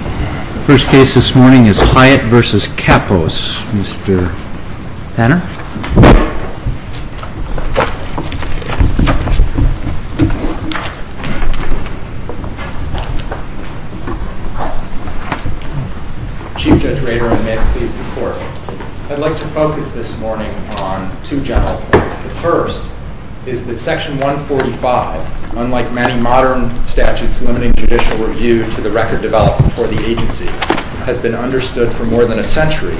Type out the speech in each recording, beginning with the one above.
The first case this morning is Hyatt v. Kappos. Mr. Panner? Chief Judge Rader, and may it please the Court, I'd like to focus this morning on two general points. The first is that Section 145, unlike many modern statutes limiting judicial review to the record before the agency, has been understood for more than a century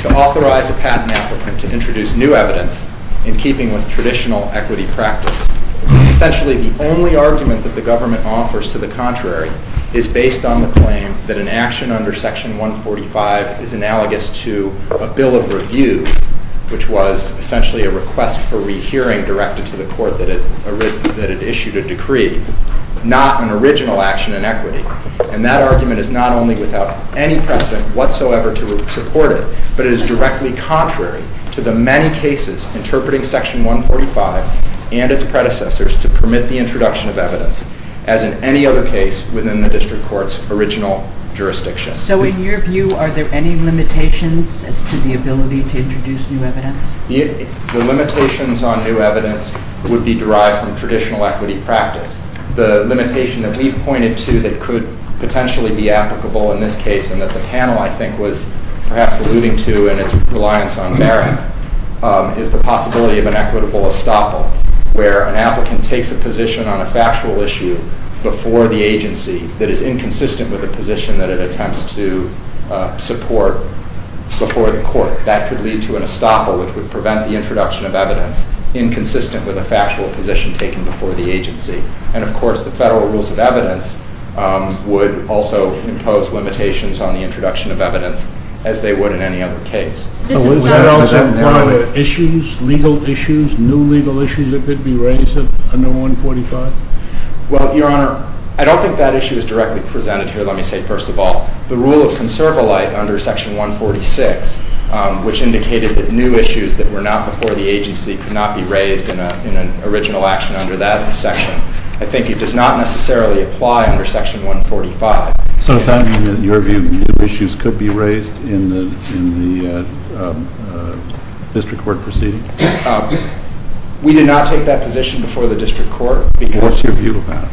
to authorize a patent applicant to introduce new evidence in keeping with traditional equity practice. Essentially, the only argument that the government offers to the contrary is based on the claim that an action under Section 145 is analogous to a bill of review, which was essentially a request for rehearing directed to the Court that it issued a decree, not an original action in equity. And that argument is not only without any precedent whatsoever to support it, but it is directly contrary to the many cases interpreting Section 145 and its predecessors to permit the introduction of evidence as in any other case within the District Court's original jurisdiction. So in your view, are there any limitations as to the ability to introduce new evidence? The limitations on new evidence would be derived from traditional equity practice. The limitation that we've pointed to that could potentially be applicable in this case and that the panel, I think, was perhaps alluding to in its reliance on merit is the possibility of an equitable estoppel, where an applicant takes a position on a factual issue before the agency that is inconsistent with a position that it attempts to support before the Court. That could lead to an estoppel, which would prevent the introduction of evidence inconsistent with a factual position taken before the agency. And, of course, the federal rules of evidence would also impose limitations on the introduction of evidence as they would in any other case. Is that one of the issues, legal issues, new legal issues that could be raised under 145? Well, Your Honor, I don't think that issue is directly presented here, let me say first of all. The rule of conservolite under Section 146, which indicated that new issues that were not before the agency could not be raised in an original action under that section, I think it does not necessarily apply under Section 145. So does that mean that, in your view, new issues could be raised in the district court proceeding? We did not take that position before the district court because... What's your view about it?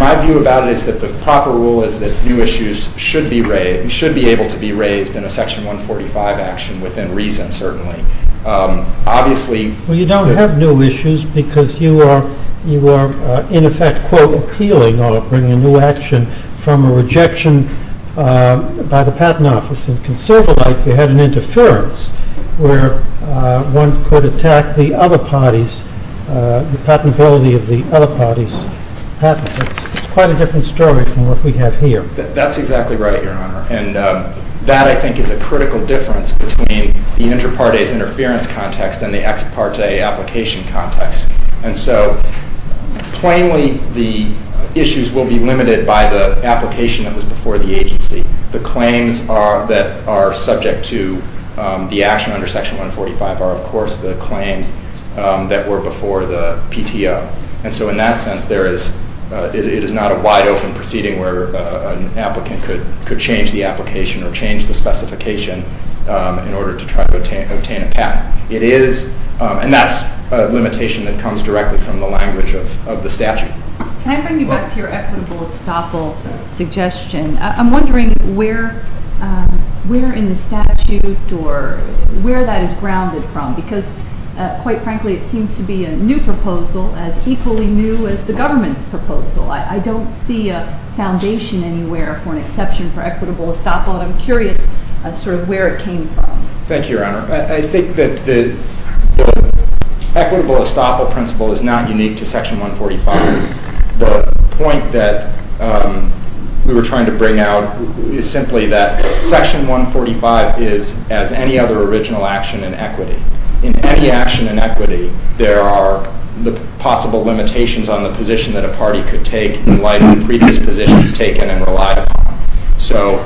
My view about it is that the proper rule is that new issues should be raised, should be able to be raised in a Section 145 action within reason, certainly. Obviously... Well, you don't have new issues because you are, in effect, quote, appealing or bringing a new action from a rejection by the Patent Office. In conservolite, you had an interference where one could attack the other parties, the patentability of the other party's patent. It's quite a different story from what we have here. That's exactly right, Your Honor, and that, I think, is a critical difference between the inter partes interference context and the ex parte application context. And so, plainly, the issues will be limited by the application that was before the agency. The claims that are subject to the action under Section 145 are, of course, the claims that were before the PTO. And so, in that sense, there is... It is not a wide open proceeding where an applicant could change the application or change the specification in order to try to obtain a patent. It is... And that's a limitation that comes directly from the language of the statute. Can I bring you back to your equitable estoppel suggestion? I'm wondering where in the statute or where that is grounded from because, quite frankly, it seems to be a new proposal as equally new as the government's proposal. I don't see a foundation anywhere for an exception for equitable estoppel, and I'm curious sort of where it came from. Thank you, Your Honor. I think that the equitable estoppel principle is not unique to Section 145. The point that we were trying to bring out is simply that Section 145 is as any other original action in equity. In any action in equity, there are the possible limitations on the position that a party could take in light of previous positions taken and relied upon. So,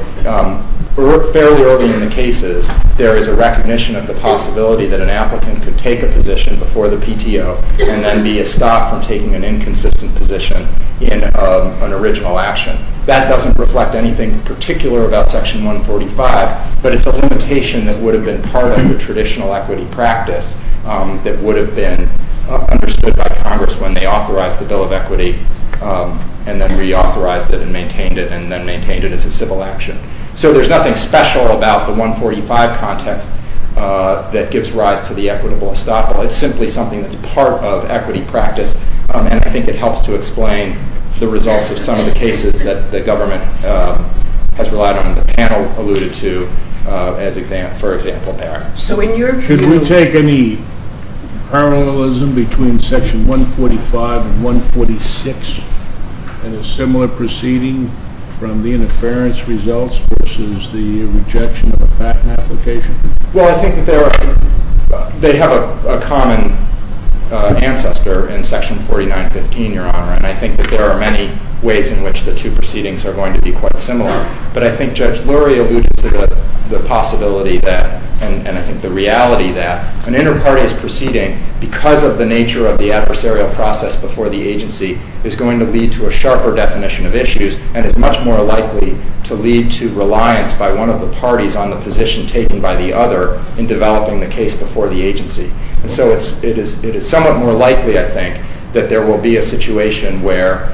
fairly early in the cases, there is a recognition of the possibility that an applicant could take a position before the PTO and then be estopped from taking an inconsistent position in an original action. That doesn't reflect anything particular about Section 145, but it's a limitation that would have been part of the traditional equity practice that would have been understood by Congress when they authorized the Bill of Equity and then reauthorized it and maintained it and then maintained it as a civil action. So there's nothing special about the 145 context that gives rise to the equitable estoppel. It's simply something that's part of equity practice, and I think it helps to explain the results of some of the cases that the government has relied on and the panel alluded to, for example, there. Should we take any parallelism between Section 145 and 146 and a similar proceeding from the interference results versus the rejection of a patent application? Well, I think that they have a common ancestor in Section 4915, Your Honor, and I think that there are many ways in which the two proceedings are going to be quite similar, but I think Judge Lurie alluded to the possibility that, and I think the reality that, an inter-party's proceeding, because of the nature of the adversarial process before the agency, is going to lead to a sharper definition of issues and is much more likely to lead to reliance by one of the parties on the position taken by the other in developing the case before the agency. So it is somewhat more likely, I think, that there will be a situation where,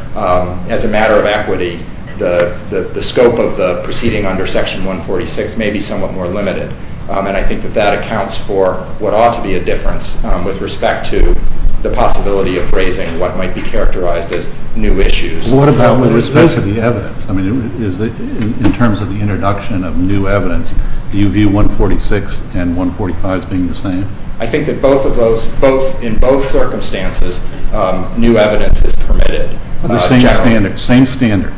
as a matter of equity, the scope of the proceeding under Section 146 may be somewhat more limited, and I think that that accounts for what ought to be a difference with respect to the possibility of raising what might be characterized as new issues. What about with respect to the evidence? I mean, in terms of the introduction of new evidence, do you view 146 and 145 as being the same? I think that in both circumstances, new evidence is permitted. The same standard? Same standard.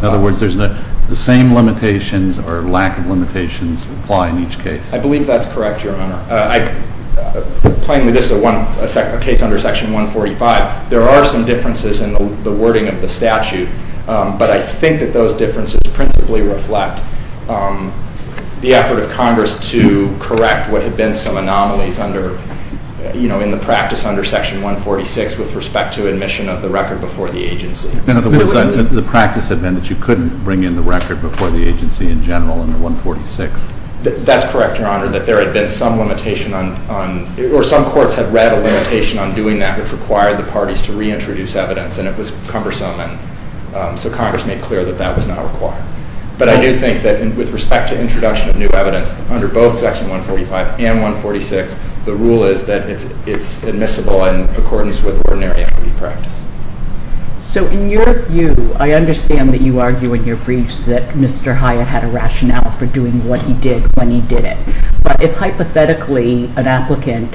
In other words, the same limitations or lack of limitations apply in each case? I believe that's correct, Your Honor. Plainly, this is a case under Section 145. There are some differences in the wording of the statute, but I think that those differences principally reflect the effort of Congress to correct what had been some anomalies in the practice under Section 146 with respect to admission of the record before the agency. In other words, the practice had been that you couldn't bring in the record before the agency in general under 146? That's correct, Your Honor, that there had been some limitation on, or some courts had read a limitation on doing that, which required the parties to reintroduce evidence, and it was cumbersome, and so Congress made clear that that was not required. But I do think that with respect to introduction of new evidence under both Section 145 and 146, the rule is that it's admissible in accordance with ordinary equity practice. So in your view, I understand that you argue in your briefs that Mr. Hyatt had a rationale for doing what he did when he did it. But if hypothetically an applicant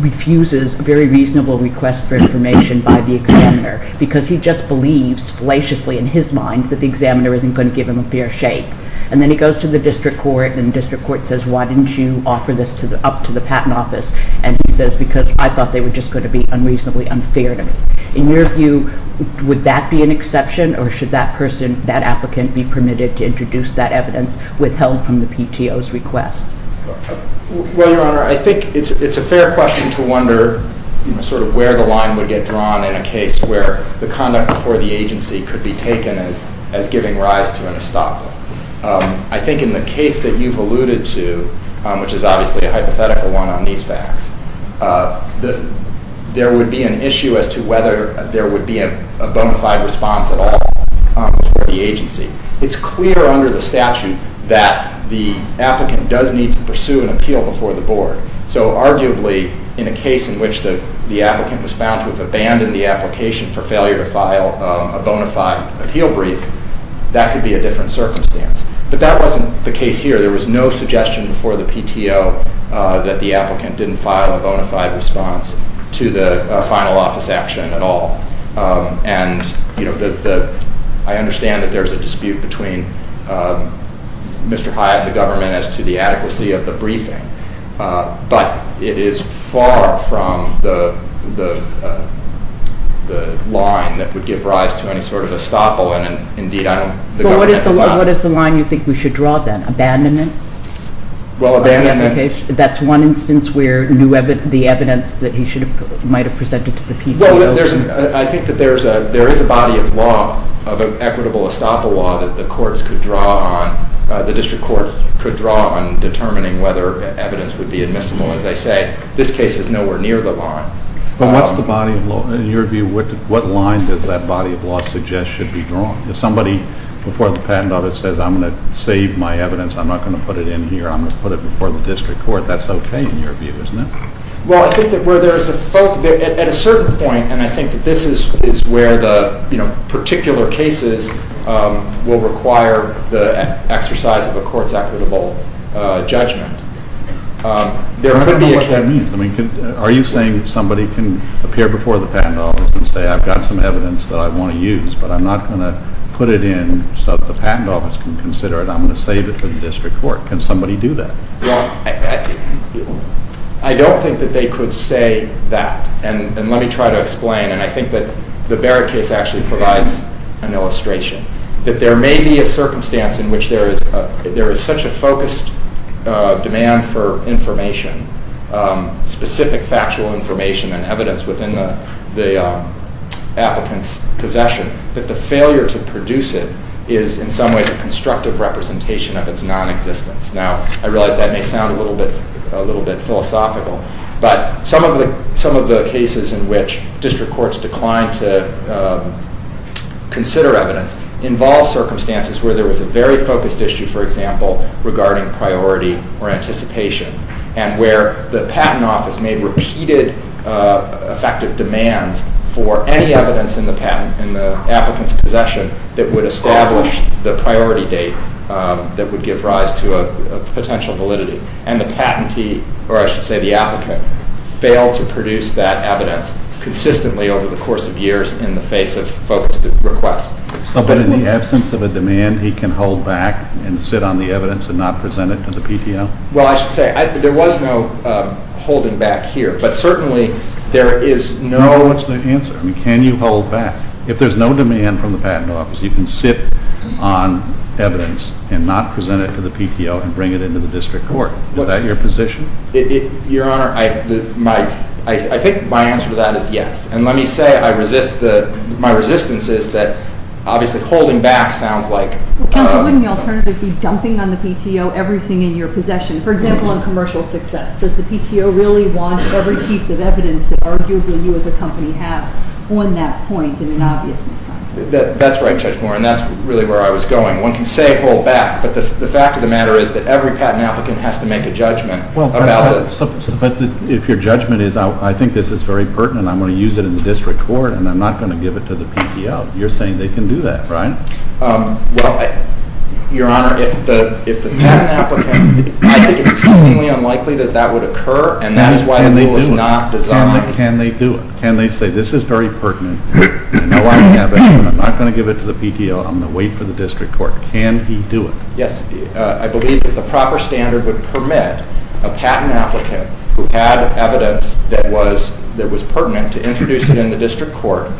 refuses a very reasonable request for information by the examiner because he just believes fallaciously in his mind that the examiner isn't going to give him a fair shake, and then he goes to the district court, and the district court says, why didn't you offer this up to the Patent Office? And he says, because I thought they were just going to be unreasonably unfair to me. In your view, would that be an exception, or should that person, that applicant, be permitted to introduce that evidence withheld from the PTO's request? Well, Your Honor, I think it's a fair question to wonder sort of where the line would get drawn in a case where the conduct before the agency could be taken as giving rise to an estoppel. I think in the case that you've alluded to, which is obviously a hypothetical one on these facts, there would be an issue as to whether there would be a bona fide response at all for the agency. It's clear under the statute that the applicant does need to pursue an appeal before the board. So arguably, in a case in which the applicant was found to have abandoned the application for failure to file a bona fide appeal brief, that could be a different circumstance. But that wasn't the case here. There was no suggestion before the PTO that the applicant didn't file a bona fide response to the final office action at all. And I understand that there's a dispute between Mr. Hyatt and the government as to the adequacy of the briefing. But it is far from the line that would give rise to any sort of estoppel. And indeed, I don't... Well, what is the line you think we should draw then? Abandonment? Well, abandonment... That's one instance where the evidence that he might have presented to the PTO... Well, I think that there is a body of law, of equitable estoppel law, that the district courts could draw on determining whether evidence would be admissible. As I say, this case is nowhere near the line. But what's the body of law? In your view, what line does that body of law suggest should be drawn? If somebody before the patent office says, I'm going to save my evidence, I'm not going to put it in here, I'm going to put it before the district court, that's okay in your view, isn't it? Well, I think that where there is a... At a certain point, and I think that this is where the particular cases will require the exercise of a court's equitable judgment, there could be... I don't know what that means. Are you saying somebody can appear before the patent office and say, I've got some evidence that I want to use, but I'm not going to put it in so that the patent office can consider it. I'm going to save it for the district court. Can somebody do that? Well, I don't think that they could say that. And let me try to explain. And I think that the Barrett case actually provides an illustration that there may be a circumstance in which there is such a focused demand for information, specific factual information and evidence within the applicant's possession, that the failure to produce it is in some ways a constructive representation of its non-existence. Now, I realize that may sound a little bit philosophical, but some of the cases in which district courts declined to consider evidence involve circumstances where there was a very focused issue, for example, regarding priority or anticipation, and where the patent office made repeated effective demands for any evidence in the patent, in the applicant's possession, that would establish the priority date that would give rise to a potential validity. And the patentee, or I should say the applicant, failed to produce that evidence consistently over the course of years in the face of focused requests. So then in the absence of a demand, he can hold back and sit on the evidence and not present it to the PTO? Well, I should say, there was no holding back here, but certainly there is no... No, what's the answer? I mean, can you hold back? If there's no demand from the patent office, you can sit on evidence and not present it to the PTO and bring it into the district court. Is that your position? Your Honor, I think my answer to that is yes. And let me say, my resistance is that obviously holding back sounds like... Counsel, wouldn't the alternative be dumping on the PTO everything in your possession? For example, on commercial success. Does the PTO really want every piece of evidence that arguably you as a company have on that point and in obviousness? That's right, Judge Moore, and that's really where I was going. One can say hold back, but the fact of the matter is that every patent applicant has to make a judgment about it. But if your judgment is, I think this is very pertinent, I'm going to use it in the district court and I'm not going to give it to the PTO, you're saying they can do that, right? Well, Your Honor, if the patent applicant... It's seemingly unlikely that that would occur and that is why the rule is not designed... Can they do it? Can they say this is very pertinent? I know I have it, but I'm not going to give it to the PTO. I'm going to wait for the district court. Can he do it? Yes, I believe that the proper standard would permit a patent applicant who had evidence that was pertinent to introduce it in the district court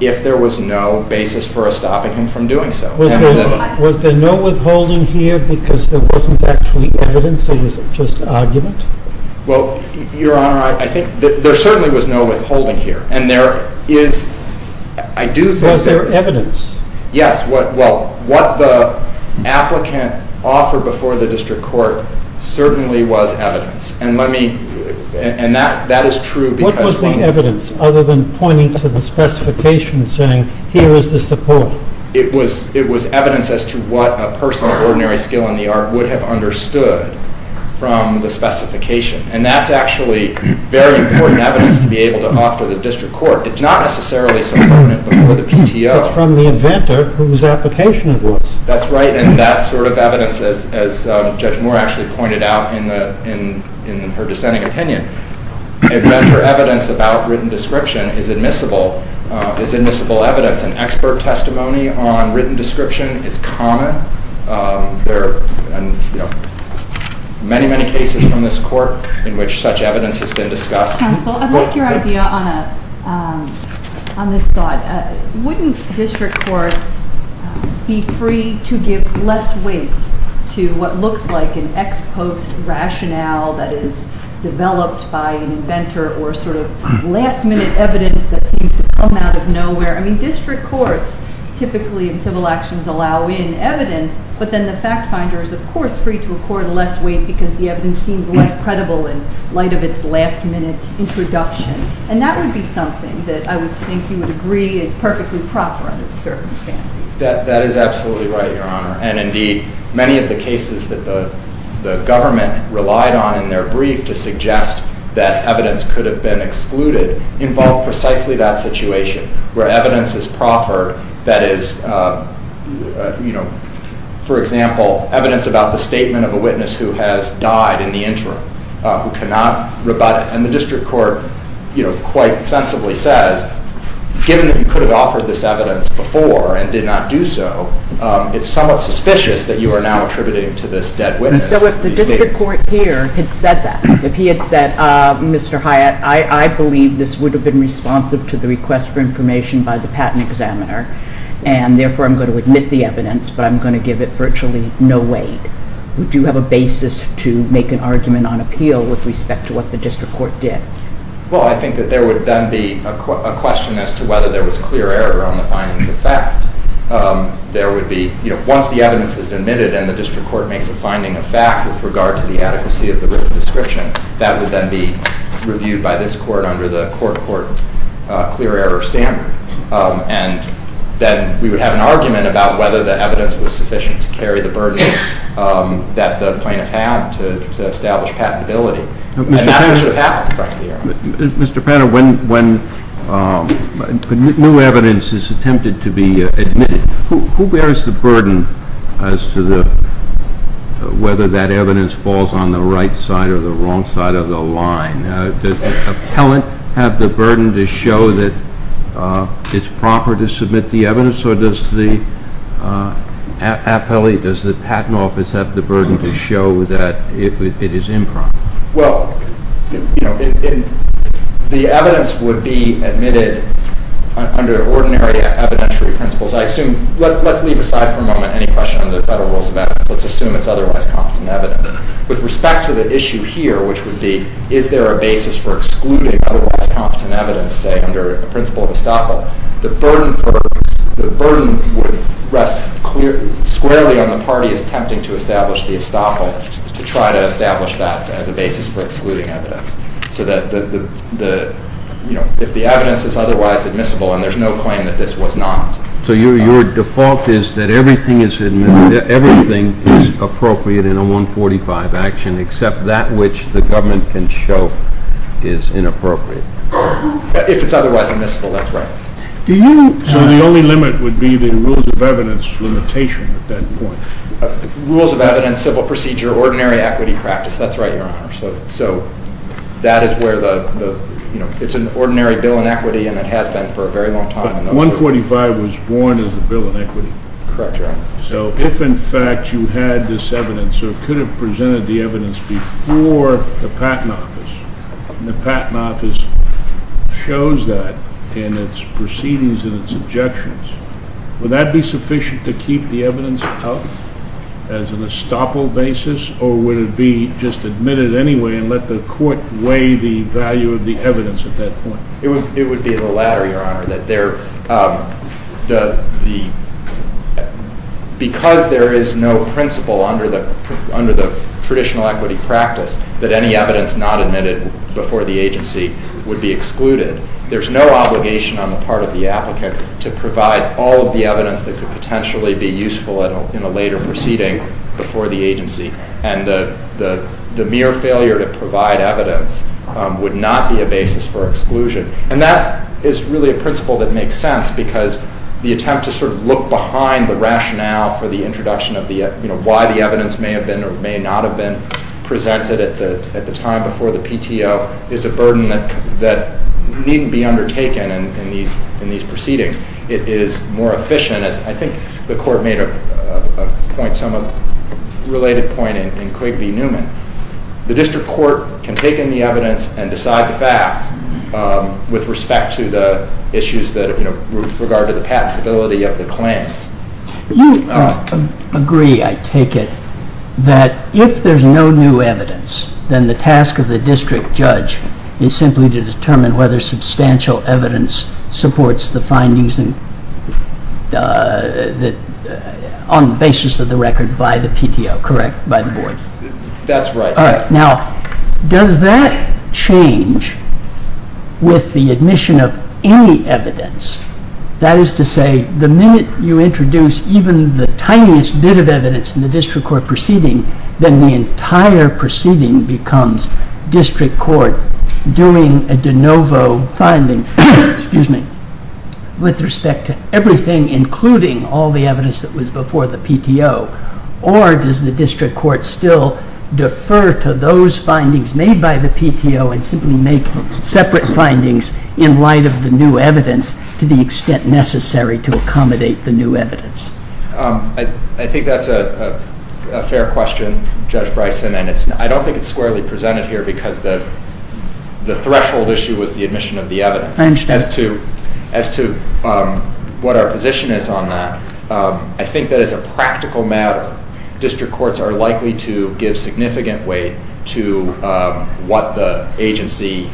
if there was no basis for us stopping him from doing so. Was there no withholding here because there wasn't actually evidence or was it just argument? Well, Your Honor, I think there certainly was no withholding here. And there is, I do think... Was there evidence? Yes, well, what the applicant offered before the district court certainly was evidence. And that is true because... What was the evidence other than pointing to the specification saying here is the support? It was evidence as to what a person of ordinary skill in the art would have understood from the specification. And that's actually very important evidence to be able to offer the district court. It's not necessarily so pertinent before the PTO. It's from the inventor whose application it was. That's right, and that sort of evidence, as Judge Moore actually pointed out in her dissenting opinion, inventor evidence about written description is admissible, is admissible evidence and expert testimony on written description is common. There are many, many cases from this court in which such evidence has been discussed. Counsel, I'd like your idea on this thought. Wouldn't district courts be free to give less weight to what looks like an ex post rationale that is developed by an inventor or sort of last minute evidence that seems to come out of nowhere? I mean district courts typically in civil actions allow in evidence but then the fact finder is of course free to accord less weight because the evidence seems less credible in light of its last minute introduction. And that would be something that I would think you would agree is perfectly proper under the circumstances. That is absolutely right, Your Honor. And indeed, many of the cases that the government relied on in their brief to suggest that evidence could have been excluded involve precisely that situation where evidence is proffered that is, you know, for example, evidence about the statement of a witness who has died in the interim, who cannot rebut it. And the district court, you know, quite sensibly says given that you could have offered this evidence before and did not do so, it's somewhat suspicious that you are now attributing to this dead witness. So if the district court here had said that, if he had said, Mr. Hyatt, I believe this would have been responsive to the request for information by the patent examiner and therefore I'm going to admit the evidence but I'm going to give it virtually no weight, would you have a basis to make an argument on appeal with respect to what the district court did? Well, I think that there would then be a question as to whether there was clear error on the findings of fact. There would be, you know, once the evidence is admitted and the district court makes a finding of fact with regard to the adequacy of the written description, that would then be reviewed by this court under the court-court clear error standard. And then we would have an argument about whether the evidence was sufficient to carry the burden that the plaintiff had to establish patentability. And that's what should have happened in front of the hearing. Mr. Panner, when new evidence is attempted to be admitted, who bears the burden as to whether that evidence falls on the right side or the wrong side of the line? Does the appellant have the burden to show that it's proper to submit the evidence or does the appellee, does the patent office have the burden to show that it is improper? Well, you know, the evidence would be admitted under ordinary evidentiary principles. I assume, let's leave aside for a moment any question on the federal rules of evidence. Let's assume it's otherwise competent evidence. With respect to the issue here, which would be, is there a basis for excluding otherwise competent evidence, say, under the principle of estoppel, the burden would rest squarely on the party attempting to establish the estoppel to try to establish that as a basis for excluding evidence. So that, you know, if the evidence is otherwise admissible and there's no claim that this was not. So your default is that everything is appropriate in a 145 action except that which the government can show is inappropriate. If it's otherwise admissible, that's right. So the only limit would be the rules of evidence limitation at that point. Rules of evidence, civil procedure, ordinary equity practice, that's right, Your Honor. So that is where the, you know, it's an ordinary bill in equity and it has been for a very long time. 145 was born as a bill in equity. Correct, Your Honor. So if in fact you had this evidence or could have presented the evidence before the Patent Office, and the Patent Office shows that in its proceedings and its objections, would that be sufficient to keep the evidence out as an estoppel basis, or would it be just admitted anyway and let the court weigh the value of the evidence at that point? It would be the latter, Your Honor. That there, because there is no principle under the traditional equity practice that any evidence not admitted before the agency would be excluded, there's no obligation on the part of the applicant to provide all of the evidence that could potentially be useful in a later proceeding before the agency. And the mere failure to provide evidence would not be a basis for exclusion. And that is really a principle that makes sense because the attempt to sort of look behind the rationale for the introduction of the, you know, why the evidence may have been or may not have been presented at the time before the PTO is a burden that needn't be undertaken in these proceedings. It is more efficient, as I think the court made a point, somewhat related point in Quigley-Newman. The district court can take in the evidence and decide the facts with respect to the issues that, you know, with regard to the patentability of the claims. You agree, I take it, that if there's no new evidence, then the task of the district judge is simply to determine whether substantial evidence supports the findings on the basis of the record by the PTO, correct, by the board? That's right. Now, does that change with the admission of any evidence? That is to say, the minute you introduce even the tiniest bit of evidence in the district court proceeding, then the entire proceeding becomes district court doing a de novo finding. Excuse me. With respect to everything, including all the evidence that was before the PTO, or does the district court still defer to those findings made by the PTO and simply make separate findings in light of the new evidence to the extent necessary to accommodate the new evidence? I think that's a fair question, Judge Bryson, and I don't think it's squarely presented here because the threshold issue was the admission of the evidence. I understand. As to what our position is on that, I think that as a practical matter, district courts are likely to give significant weight to what the agency,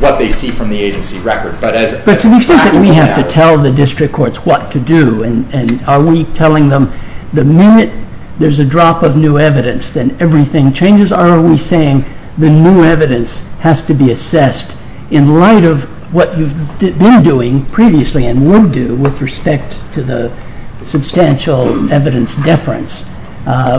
what they see from the agency record. But to the extent that we have to tell the district courts what to do, and are we telling them the minute there's a drop of new evidence, then everything changes, or are we saying the new evidence has to be assessed in light of what you've been doing previously and will do with respect to the substantial evidence deference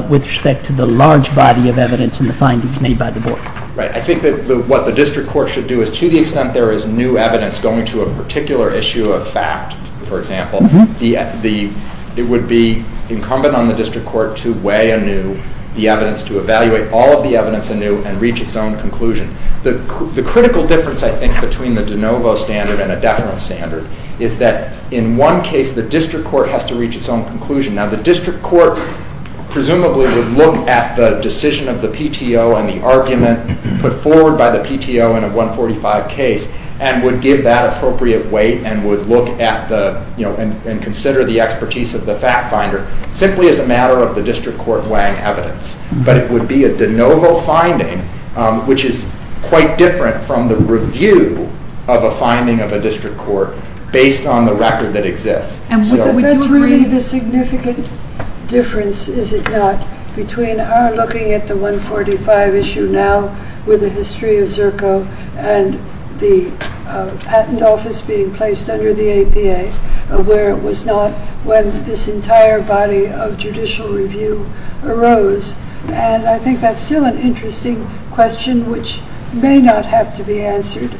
with respect to the large body of evidence and the findings made by the board? Right. I think that what the district court should do is, to the extent there is new evidence going to a particular issue of fact, for example, it would be incumbent on the district court to weigh anew the evidence to evaluate all of the evidence anew and reach its own conclusion. The critical difference, I think, between the de novo standard and a deference standard is that in one case the district court has to reach its own conclusion. Now the district court presumably would look at the decision of the PTO and the argument put forward by the PTO in a 145 case and would give that appropriate weight and would look at the, you know, and consider the expertise of the fact finder. Simply as a matter of the district court weighing evidence. But it would be a de novo finding, which is quite different from the review of a finding of a district court based on the record that exists. That's really the significant difference, is it not, between our looking at the 145 issue now with the history of ZERCO and the patent office being placed under the APA where it was not when this entire body of judicial review arose. And I think that's still an interesting question, which may not have to be answered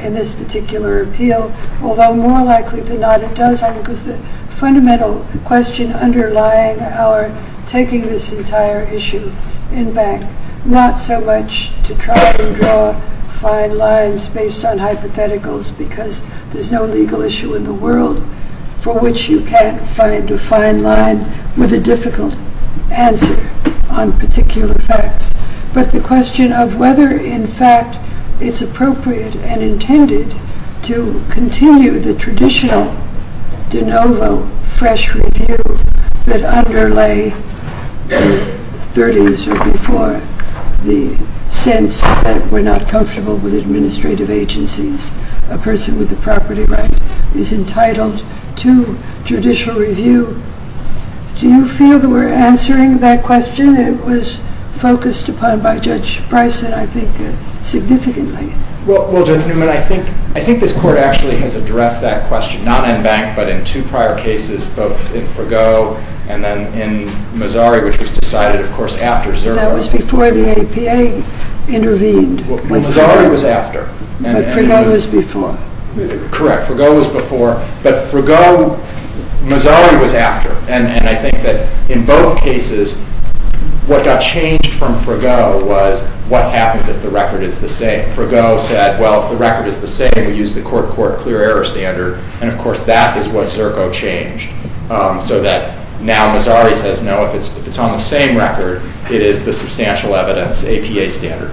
in this particular appeal, although more likely than not it does. I think it's the fundamental question underlying our taking this entire issue in bank. Not so much to try and draw fine lines based on hypotheticals because there's no legal issue in the world for which you can't find a fine line with a difficult answer on particular facts. But the question of whether in fact it's appropriate and intended to continue the traditional de novo fresh review that underlay the 30s or before. The sense that we're not comfortable with administrative agencies. A person with a property right is entitled to judicial review. Do you feel that we're answering that question? It was focused upon by Judge Bryson, I think, significantly. Well, Judge Newman, I think this court actually has addressed that question, not in bank, but in two prior cases, both in Frigo and then in Missouri, which was decided, of course, after ZERCO. That was before the APA intervened. Well, Missouri was after. But Frigo was before. Correct. Frigo was before, but Missouri was after. And I think that in both cases what got changed from Frigo was what happens if the record is the same. Frigo said, well, if the record is the same, we use the court-court clear error standard. And, of course, that is what ZERCO changed. So that now Missouri says, no, if it's on the same record, it is the substantial evidence APA standard.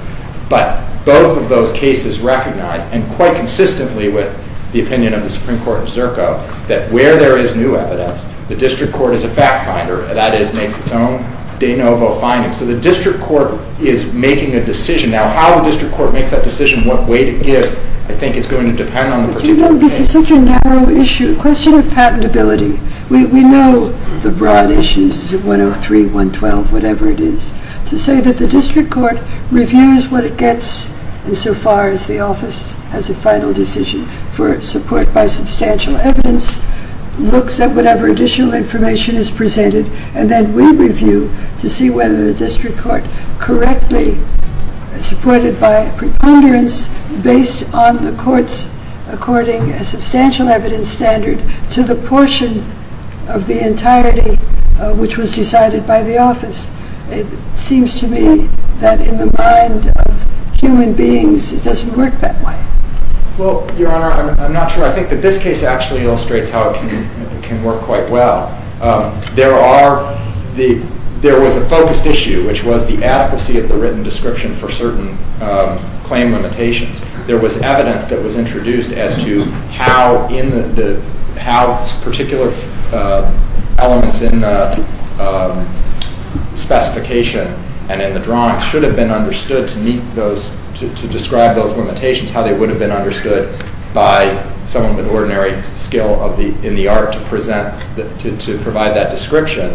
But both of those cases recognize, and quite consistently with the opinion of the Supreme Court of ZERCO, that where there is new evidence, the district court is a fact finder. That is, makes its own de novo findings. So the district court is making a decision. Now, how the district court makes that decision, what weight it gives, I think is going to depend on the particular case. You know, this is such a narrow issue, a question of patentability. We know the broad issues, 103, 112, whatever it is. To say that the district court reviews what it gets insofar as the office has a final decision for support by substantial evidence, looks at whatever additional information is presented, and then we review to see whether the district court correctly supported by a preponderance based on the court's, according to a substantial evidence standard, to the portion of the entirety which was decided by the office. It seems to me that in the mind of human beings, it doesn't work that way. Well, Your Honor, I'm not sure. I think that this case actually illustrates how it can work quite well. There was a focused issue, which was the adequacy of the written description for certain claim limitations. There was evidence that was introduced as to how particular elements in the specification and in the drawing should have been understood to describe those limitations, how they would have been understood by someone with ordinary skill in the art to provide that description.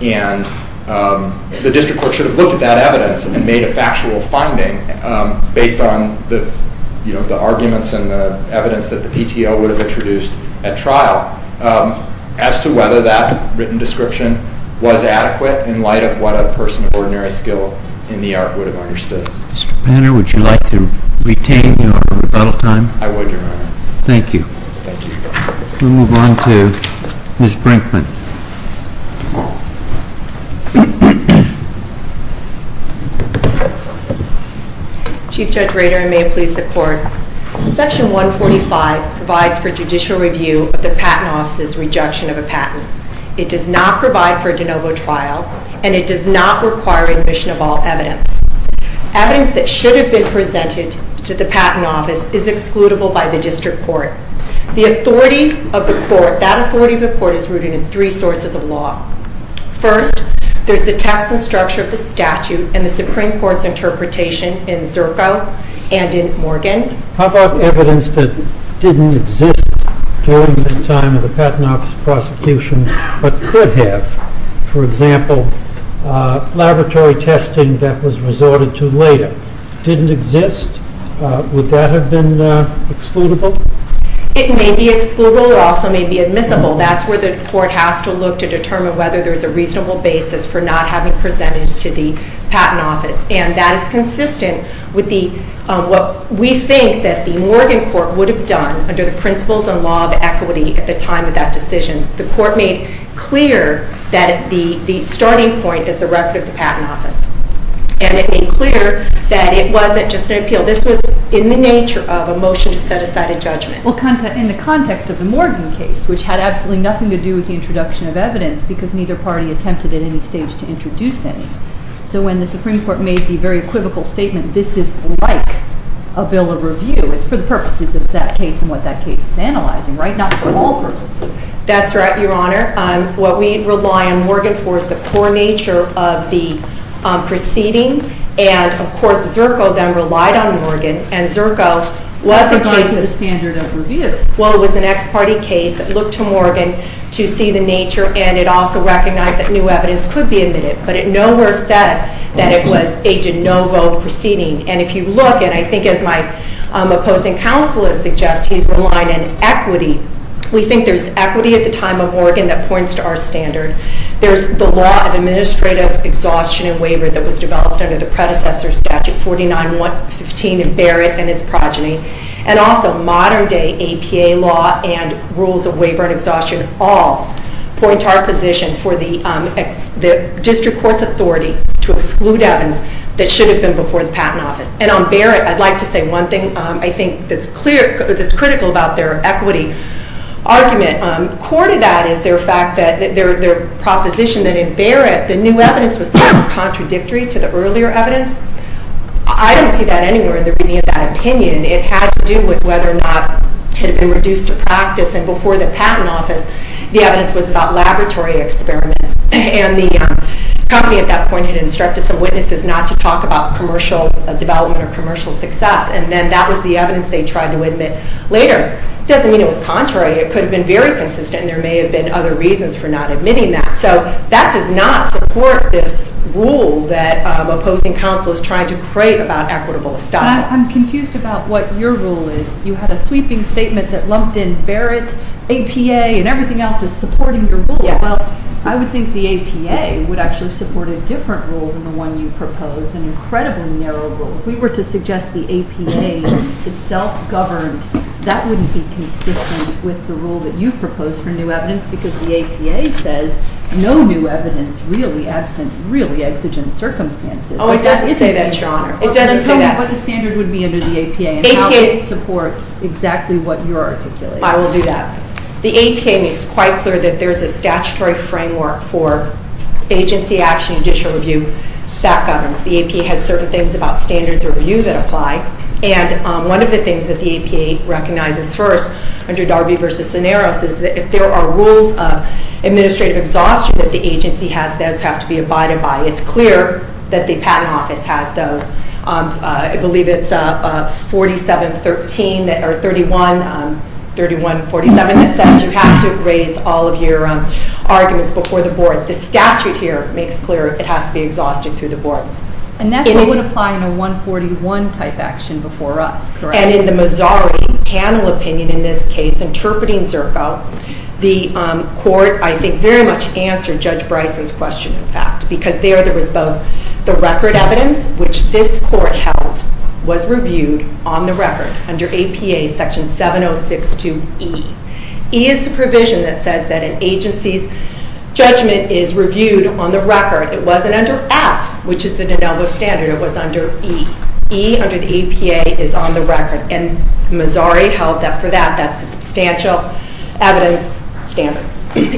The district court should have looked at that evidence and made a factual finding based on the arguments and the evidence that the PTO would have introduced at trial as to whether that written description was adequate in light of what a person of ordinary skill in the art would have understood. Mr. Panner, would you like to retain your rebuttal time? I would, Your Honor. Thank you. Thank you, Your Honor. We'll move on to Ms. Brinkman. Chief Judge Rader, I may please the Court. Section 145 provides for judicial review of the Patent Office's rejection of a patent. It does not provide for a de novo trial, and it does not require admission of all evidence. Evidence that should have been presented to the Patent Office is excludable by the district court. That authority of the court is rooted in three sources of law. First, there's the text and structure of the statute and the Supreme Court's interpretation in Zirko and in Morgan. How about evidence that didn't exist during that time of the Patent Office's prosecution but could have? For example, laboratory testing that was resorted to later didn't exist. Would that have been excludable? It may be excludable. It also may be admissible. That's where the court has to look to determine whether there's a reasonable basis for not having presented it to the Patent Office. And that is consistent with what we think that the Morgan court would have done under the principles and law of equity at the time of that decision. The court made clear that the starting point is the record of the Patent Office. And it made clear that it wasn't just an appeal. This was in the nature of a motion to set aside a judgment. Well, in the context of the Morgan case, which had absolutely nothing to do with the introduction of evidence because neither party attempted at any stage to introduce any. So when the Supreme Court made the very equivocal statement, this is like a bill of review. It's for the purposes of that case and what that case is analyzing, right? Not for all purposes. That's right, Your Honor. What we rely on Morgan for is the poor nature of the proceeding. And, of course, Zerko then relied on Morgan. And Zerko was a case of... It was a standard of review. Well, it was an ex-party case. It looked to Morgan to see the nature and it also recognized that new evidence could be admitted. But it nowhere said that it was a de novo proceeding. And if you look, and I think as my opposing counselor suggests, he's relying on equity. We think there's equity at the time of Morgan that points to our standard. There's the law of administrative exhaustion and waiver that was developed under the predecessor statute 4915 in Barrett and its progeny. And also modern-day APA law and rules of waiver and exhaustion all point to our position for the district court's authority to exclude evidence that should have been before the Patent Office. And on Barrett, I'd like to say one thing I think that's critical about their equity argument. Core to that is their proposition that in Barrett the new evidence was sort of contradictory to the earlier evidence. I don't see that anywhere in the reading of that opinion. It had to do with whether or not it had been reduced to practice and before the Patent Office the evidence was about laboratory experiments and the company at that point had instructed some witnesses not to talk about commercial development or commercial success and then that was the evidence they tried to admit later. Doesn't mean it was contrary. It could have been very consistent and there may have been other reasons for not admitting that. So that does not support this rule that opposing counsel is trying to create about equitable establishment. I'm confused about what your rule is. You had a sweeping statement that lumped in Barrett, APA and everything else is supporting your rule. Yes. Well, I would think the APA would actually support a different rule than the one you proposed, an incredibly narrow rule. If we were to suggest the APA itself governed that wouldn't be consistent with the rule that you proposed for new evidence because the APA says no new evidence really absent really exigent circumstances. Oh, it doesn't say that, Your Honor. Tell me what the standard would be under the APA and how it supports exactly what you're articulating. I will do that. The APA makes quite clear that there's a statutory framework for agency action judicial review that governs. The APA has certain things about standards review that apply and one of the things that the APA recognizes first under Darby v. Cineros is that if there are rules of administrative exhaustion that the agency has, those have to be abided by. It's clear that the Patent Office has those. I believe it's 4713 or 31 3147 that says you have to raise all of your arguments before the Board. The statute here makes clear it has to be exhausted through the Board. And that's what would apply in a 141 type action before us, and in the Mazzari panel opinion in this case, interpreting Zerko, the Court, I think, very much answered Judge Bryson's question, in fact, because there there was both the record evidence, which this Court held was reviewed on the record under APA Section 7062E. E is the provision that says that an agency's judgment is reviewed on the record. It wasn't under F, which is the Denelvo standard. It was under E. E under the APA is on the record, and Mazzari held that for that that's a substantial evidence standard.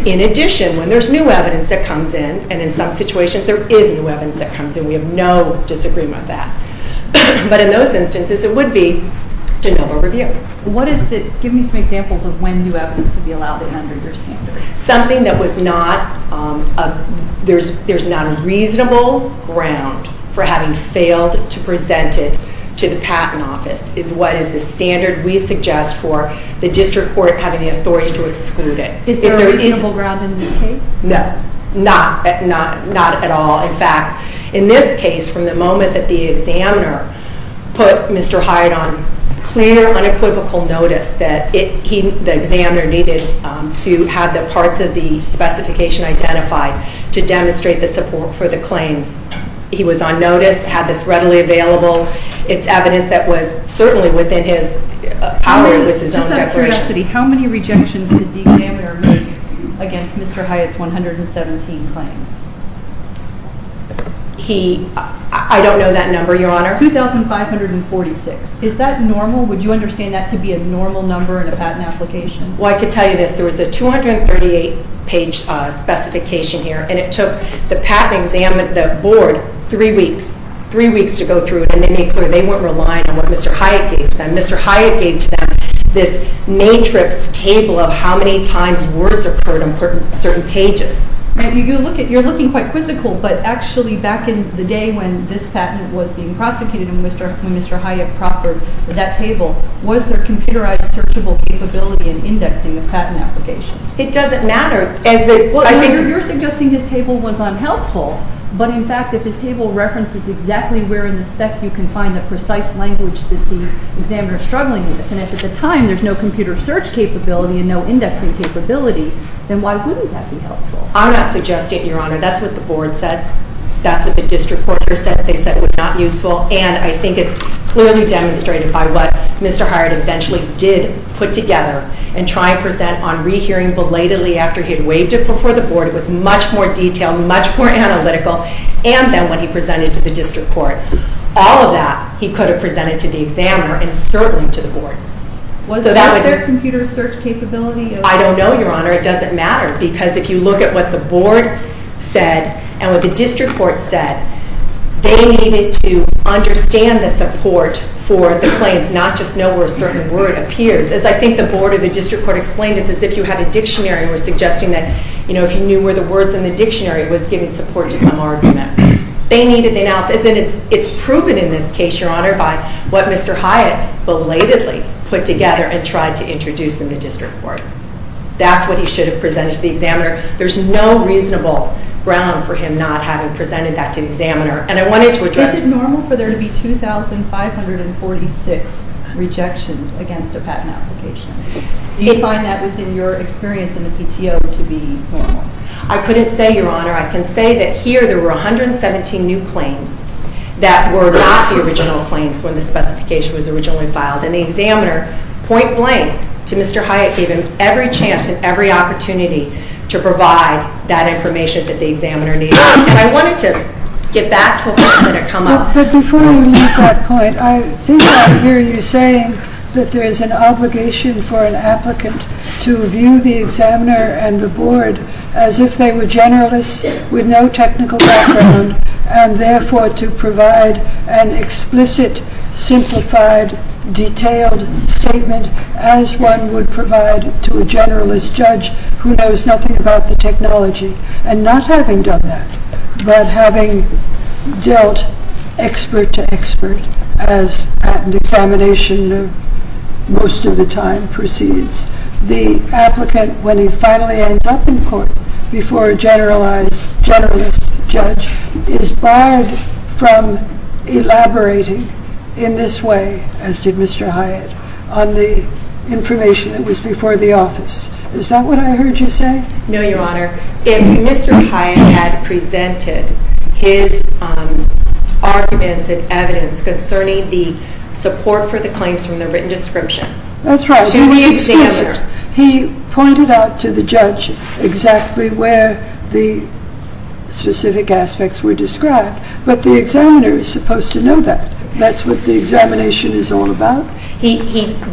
In addition, when there's new evidence that comes in, and in some situations there is new evidence that comes in, we have no disagreement with that. But in those instances, it would be Denelvo review. What is the, give me some examples of when new evidence would be allowed under your standard. Something that was not there's not a reasonable ground for having failed to present it to the Patent Office is what is the standard we suggest for the District Court having the authority to exclude it. Is there a reasonable ground in this case? No, not at all. In fact, in this case, from the moment that the examiner put Mr. Hyde on clear, unequivocal notice that the examiner needed to have the parts of the specification identified to demonstrate the support for the claims. He was on notice, had this readily available. It's evidence that was certainly within his power. Just out of curiosity, how many rejections did the examiner make against Mr. Hyde's 117 claims? He, I don't know that number, Your Honor. 2,546. Is that normal? Would you understand that to be a normal number in a patent application? Well, I could tell you this. There was a 238 page specification here, and it took the board three weeks to go through it and they made clear they weren't relying on what Mr. Hyde gave to them. Mr. Hyde gave to them this matrix table of how many times words occurred on certain pages. You're looking quite quizzical, but actually back in the day when this patent was being prosecuted and Mr. Hyde proffered that table, was there computerized searchable capability in indexing the patent application? It doesn't matter. You're suggesting this table was unhelpful, but in fact if this table references exactly where in the spec you can find the precise language that the examiner is struggling with and if at the time there's no computer search capability and no indexing capability then why wouldn't that be helpful? I'm not suggesting it, Your Honor. That's what the board said. That's what the district court said that they said was not useful, and I think it's clearly demonstrated by what Mr. Hyde eventually did put together and try and present on rehearing belatedly after he had waved it before the board. It was much more detailed, much more analytical, and then when he presented to the district court all of that he could have presented to the examiner and certainly to the board. Was that their computer search capability? I don't know, Your Honor. It doesn't matter. Because if you look at what the board said and what the district court said, they needed to understand the support for the claims, not just know where a certain word appears. As I think the board or the district court explained, it's as if you had a dictionary and were suggesting that if you knew where the words in the dictionary was giving support to some argument. It's proven in this case, Your Honor, by what Mr. Hyde belatedly put together and tried to introduce in the district court. That's what he should have presented to the examiner. There's no reasonable ground for him not having presented that to the examiner, and I wanted to address Is it normal for there to be 2,546 rejections against a patent application? Do you find that, within your experience in the PTO, to be normal? I couldn't say, Your Honor. I can say that here there were 117 new claims that were not the original claims when the specification was originally filed, and the examiner, point blank, to Mr. Hyde, gave him every chance and every opportunity to provide that information that the examiner needed. And I wanted to get back to a point that had come up. But before we leave that point, I hear you saying that there is an obligation for an applicant to view the examiner and the board as if they were generalists with no technical background, and therefore to provide an explicit simplified, detailed statement as one would provide to a generalist judge who knows nothing about the technology, and not having done that, but having dealt expert to expert, as patent examination most of the time proceeds. The applicant, when he finally ends up in court before a generalist judge, is barred from elaborating in this way, as did Mr. Hyde, on the information that was before the office. Is that what I heard you say? No, Your Honor. If Mr. Hyde had presented his arguments and evidence concerning the support for the claims from the written description to the examiner... That's right. He was explicit. He pointed out to the judge exactly where the specific aspects were described, but the examiner is supposed to know that. That's what the examination is all about. He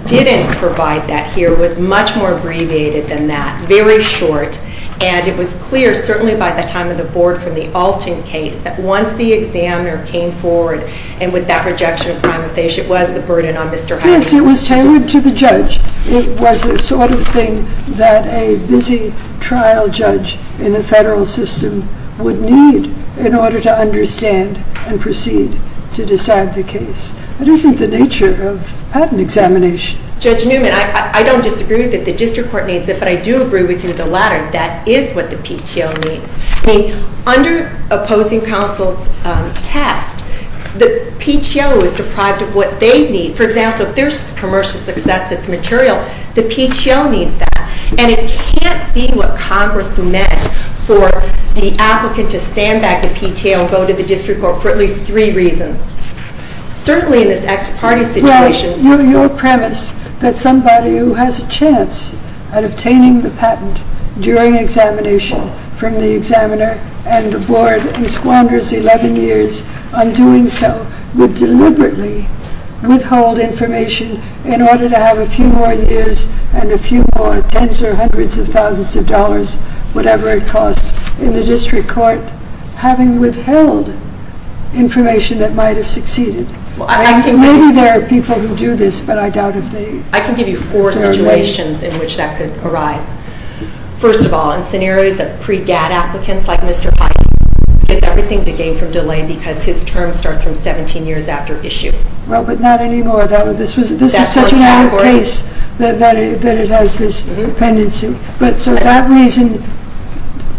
didn't provide that here. It was much more abbreviated than that. Very short. And it was clear, certainly by the time of the board from the Alton case, that once the examiner came forward, and with that rejection of prima facie, it was the burden on Mr. Hyde. Yes, it was tailored to the judge. It was the sort of thing that a busy trial judge in the federal system would need in order to understand and proceed to decide the case. It isn't the nature of patent examination. Judge Newman, I don't disagree that the district court needs it, but I do agree with you the latter. That is what the PTO needs. I mean, under opposing counsel's test, the PTO is deprived of what they need. For example, if there's commercial success that's material, the PTO needs that. And it can't be what Congress meant for the applicant to sandbag the PTO and go to the district court for at least three reasons. Certainly in this ex parte situation... Well, your premise that somebody who has a chance at obtaining the information from the examiner and the board and squanders 11 years on doing so would deliberately withhold information in order to have a few more years and a few more tens or hundreds of thousands of dollars, whatever it costs, in the district court, having withheld information that might have succeeded. Maybe there are people who do this, but I doubt if they... I can give you four situations in which that could arise. First of all, in scenarios of pre-GAD applicants like Mr. Hyatt, it's everything to gain from delay because his term starts from 17 years after issue. Well, but not anymore. This is such a minor case that it has this dependency. But so that reason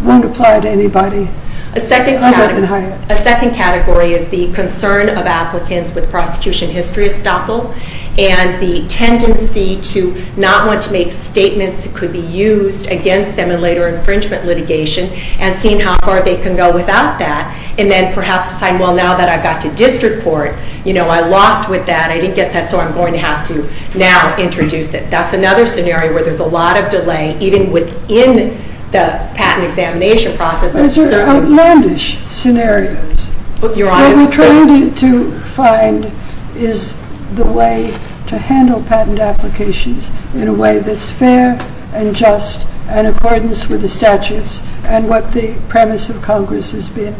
won't apply to anybody other than Hyatt. A second category is the concern of applicants with prosecution history estoppel and the tendency to not want to make statements that could be used against them in later infringement litigation and seeing how far they can go without that. And then perhaps saying, well, now that I've got to district court, you know, I lost with that. I didn't get that so I'm going to have to now introduce it. That's another scenario where there's a lot of delay, even within the patent examination process. Those are outlandish scenarios. What we're trying to find is the way to handle patent applications in a way that's fair and just and accordance with the statutes and what the premise of Congress has been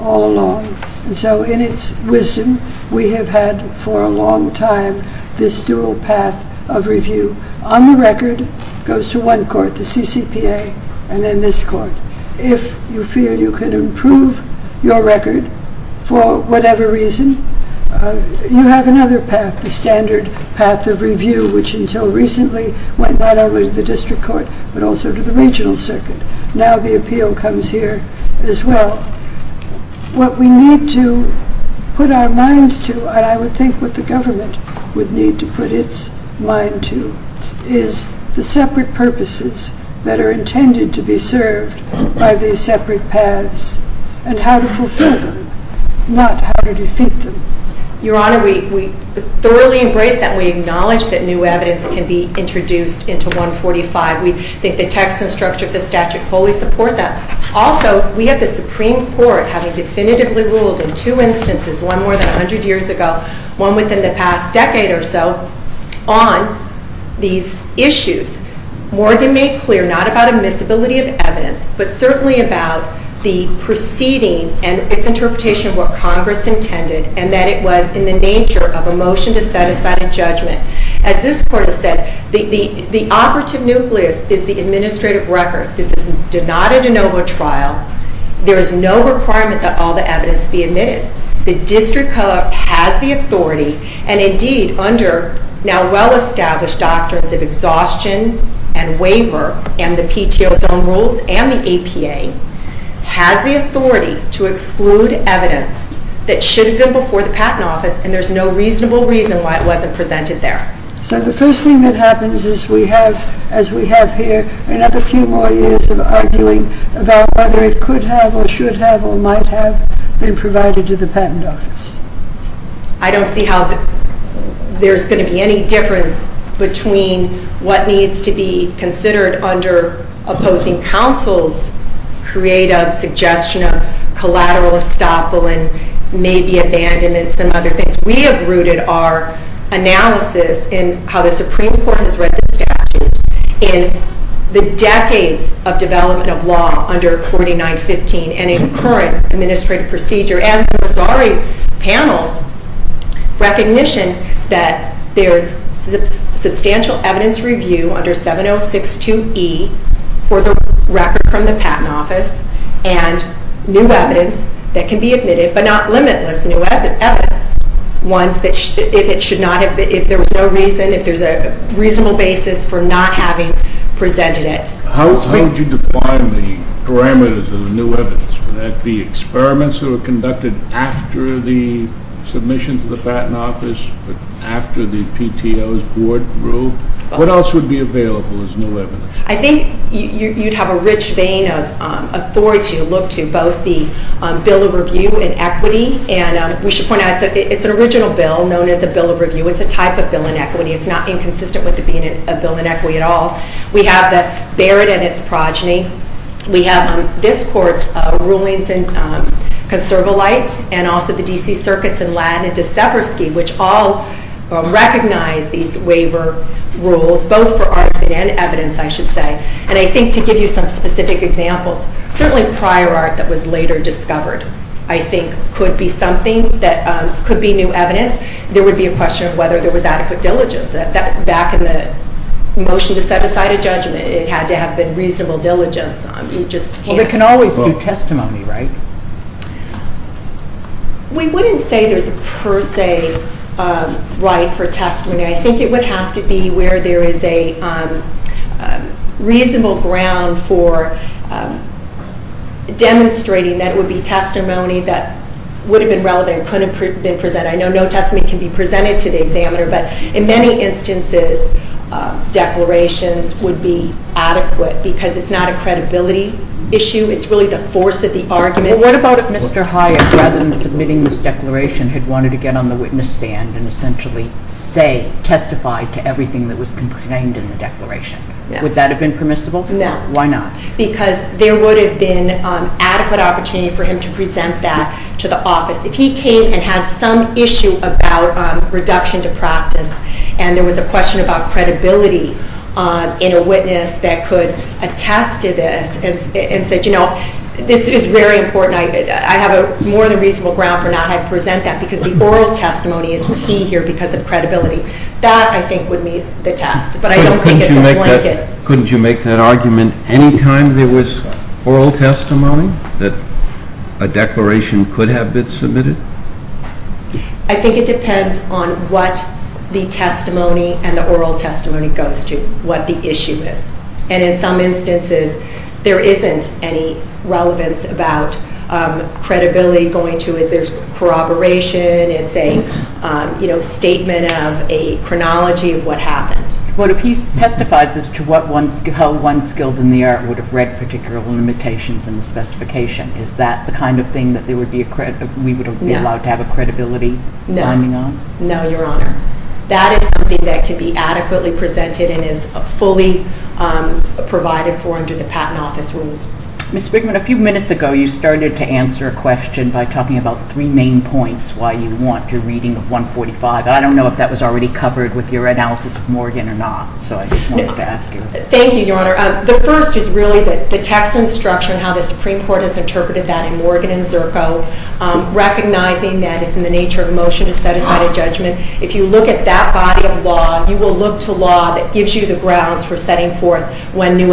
all along. And so in its wisdom, we have had for a long time this dual path of review. On the record, it goes to one court, the CCPA, and then this court. If you feel you can improve your record for whatever reason, you have another path, the standard path of review, which until recently went not only to the district court, but also to the regional circuit. Now the appeal comes here as well. What we need to put our minds to, and I would think what the government would need to put its mind to, is the separate purposes that are intended to be served by these separate paths and how to fulfill them, not how to defeat them. Your Honor, we thoroughly embrace that. We acknowledge that new evidence can be introduced into 145. We think the text and structure of the statute wholly support that. Also, we have the Supreme Court having definitively ruled in two instances, one more than 100 years ago, one within the past decade or so, on these issues, more than made clear, not about admissibility of evidence, but certainly about the proceeding and its interpretation of what Congress intended and that it was in the nature of a motion to set aside a judgment. As this Court has said, the operative nucleus is the administrative record. This is not a de novo trial. There is no requirement that all the evidence be admitted. The district court has the authority and indeed under now well-established doctrines of exhaustion and waiver and the PTO's own rules and the APA, has the authority to present evidence that should have been before the Patent Office and there's no reasonable reason why it wasn't presented there. So the first thing that happens is we have, as we have here, another few more years of arguing about whether it could have or should have or might have been provided to the Patent Office. I don't see how there's going to be any difference between what needs to be considered under opposing counsel's creative suggestion of collateral estoppel and maybe abandonment and some other things. We have rooted our analysis in how the Supreme Court has read the statute in the decades of development of law under 4915 and in current administrative procedure and the Missouri panel's recognition that there's substantial evidence review under 7062E for the record from the Patent Office and new evidence that can be admitted but not limitless new evidence ones that if it should not have been, if there was no reason, if there's a reasonable basis for not having presented it. How would you define the parameters of the new evidence? Would that be experiments that were conducted after the submission to the Patent Office after the PTO's board rule? What else would be available as new evidence? I think you'd have a rich vein of authority to look to. Both the Bill of Review and Equity and we should point out it's an original bill known as the Bill of Review. It's a type of Bill of Equity. It's not inconsistent with it being a Bill of Equity at all. We have the Barrett and its progeny. We have this court's rulings in Conservolite and also the D.C. Circuits in Lattin and Deseversky which all recognize these waiver rules both for argument and evidence I should say. And I think to give you some specific examples certainly prior art that was later discovered I think could be something that could be new evidence. There would be a question of whether there was adequate diligence. Back in the motion to set aside a judgment it had to have been reasonable diligence. You just can't. Well there can always be testimony, right? We wouldn't say there's a per se right for testimony. I think it would have to be where there is a reasonable ground for demonstrating that it would be testimony that would have been relevant and couldn't have been presented. I know no testimony can be presented to the examiner but in many instances declarations would be adequate because it's not a credibility issue. It's really the force of the argument. What about if Mr. Hyatt rather than submitting this stand and essentially say testify to everything that was contained in the declaration. Would that have been permissible? No. Why not? Because there would have been adequate opportunity for him to present that to the office. If he came and had some issue about reduction to practice and there was a question about credibility in a witness that could attest to this and said you know this is very important. I have a more than reasonable ground for not presenting that because the oral testimony is key here because of credibility. That I think would meet the test. But I don't think it's a blanket. Couldn't you make that argument any time there was oral testimony that a declaration could have been submitted? I think it depends on what the testimony and the oral testimony goes to. What the issue is. And in some instances there isn't any relevance about credibility going to it. There's corroboration. It's a statement of a chronology of what happened. But if he testifies as to how one skilled in the art would have read particular limitations in the specification is that the kind of thing that we would be allowed to have a credibility finding on? No, Your Honor. That is something that can be adequately presented and is fully provided for under the Patent Office rules. Ms. Spigman, a few minutes ago you started to answer a question by talking about three main points why you want a reading of 145. I don't know if that was already covered with your analysis of Morgan or not. So I just wanted to ask you. Thank you, Your Honor. The first is really the text and structure and how the Supreme Court has interpreted that in Morgan and Zirko recognizing that it's in the nature of motion to set aside a judgment. If you look at that body of law you will look to law that gives you the grounds for setting forth when new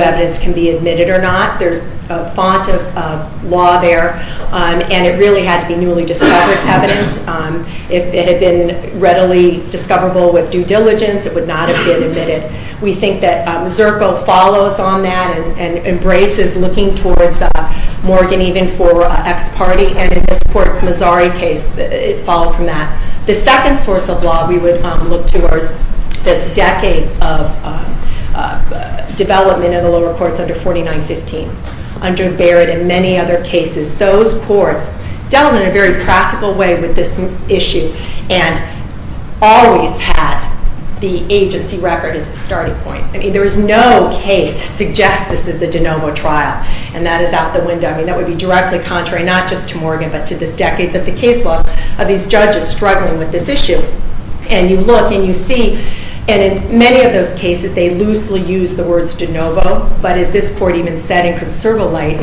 found of law there and it really had to be newly discovered evidence. If it had been readily discoverable with due diligence it would not have been admitted. We think that Zirko follows on that and embraces looking towards Morgan even for ex parte and in this court's Mazzari case it followed from that. The second source of law we would look towards this decades of development in the lower courts under 4915, under Barrett and many other cases. Those courts dealt in a very practical way with this issue and always had the agency record as the starting point. I mean there is no case to suggest this is the De Novo trial and that is out the window. I mean that would be directly contrary not just to Morgan but to the decades of the case laws of these judges struggling with this issue and you look and you see and in many of those cases they loosely use the words De Novo but as this court even said in conserva light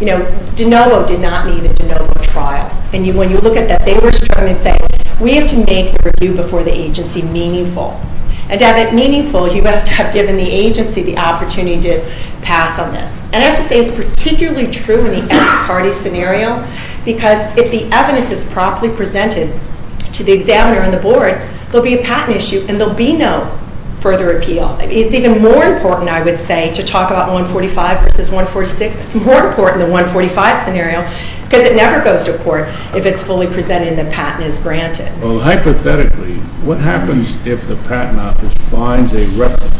De Novo did not need a De Novo trial and when you look at that they were struggling to say we have to make the review before the agency meaningful and to have it meaningful you have to have given the agency the opportunity to pass on this and I have to say it is particularly true in the ex parte scenario because if the evidence is properly presented to the examiner and the board there will be a patent issue and there will be no further appeal. It is even more important I would say to talk about 145 versus 146. It is more important than 145 scenario because it never goes to court if it is fully presented and the patent is granted. Well hypothetically what happens if the patent office finds a reference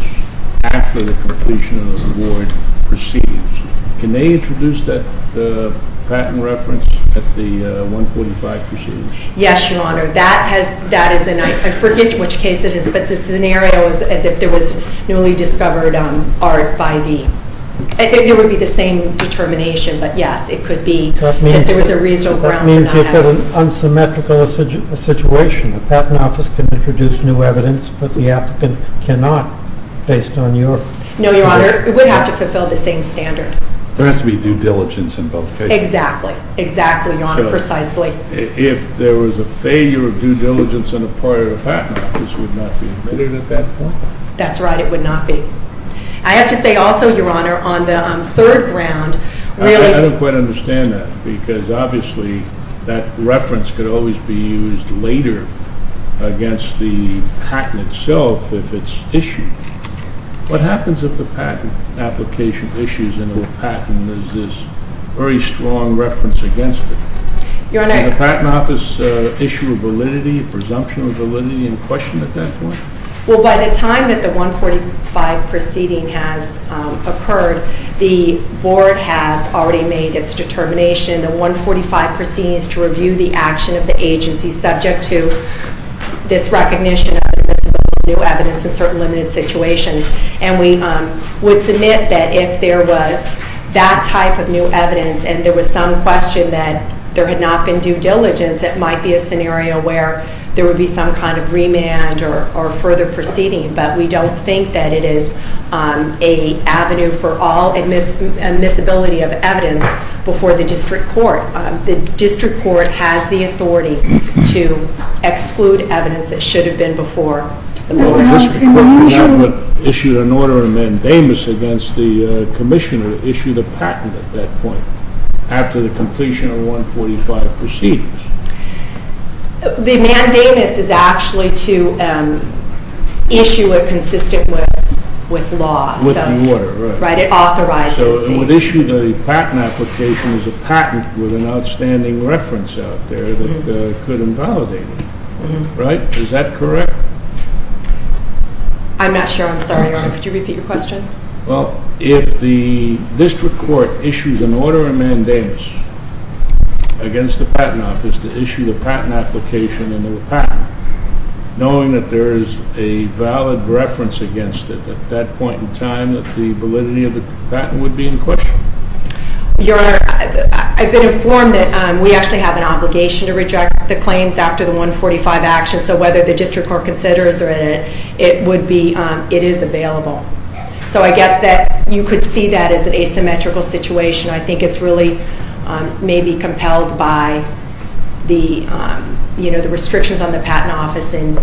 after the completion of the award proceeds? Can they introduce that patent reference at the 145 proceedings? Yes your honor that is and I forget which case it is but the scenario is if there was newly discovered art by the I think it would be the same determination but yes it could be if there was a reasonable ground for that. That means you have an unsymmetrical situation. The patent office can introduce new evidence but the applicant cannot based on your. No your honor it would have to fulfill the same standard. There has to be due diligence in both cases. Exactly your honor precisely. If there was a failure of due diligence in a prior patent this would not be admitted at that point. That's right it would not be. I have to say also your honor on the third round. I don't quite understand that because obviously that reference could always be used later against the patent itself if it is issued. What happens if the patent application issues and the patent is this very strong reference against it? Your honor Can the patent office issue a validity presumption of validity and question at that point? Well by the time that the 145 proceeding has occurred the board has already made its determination. The 145 proceeding is to review the action of the agency subject to this recognition of new evidence in certain limited situations and we would submit that if there was that type of new evidence and there was some question that there had not been due diligence it might be a scenario where there would be some kind of remand or further proceeding but we don't think that it is a avenue for all admissibility of evidence before the district court. The district court has the authority to exclude evidence that should have been before the board. Well the district court issued an order and then Davis against the commissioner issued a patent at that point after the completion of 145 proceedings. The mandate is actually to issue a consistent with law. It authorizes So it would issue a patent application as a patent with an outstanding reference out there that could invalidate it. Right? Is that correct? I'm not sure. I'm sorry your honor. Could you repeat your question? Well if the district court issues an order and mandates against the patent office to issue the patent application and the patent knowing that there is a valid reference against it at that point in time that the validity of the patent would be in question. Your honor, I've been informed that we actually have an obligation to reject the claims after the 145 action so whether the district court considers it, it would be it is available. So I guess that you could see that as an asymmetrical situation. I think it's really maybe compelled by the restrictions on the patent office in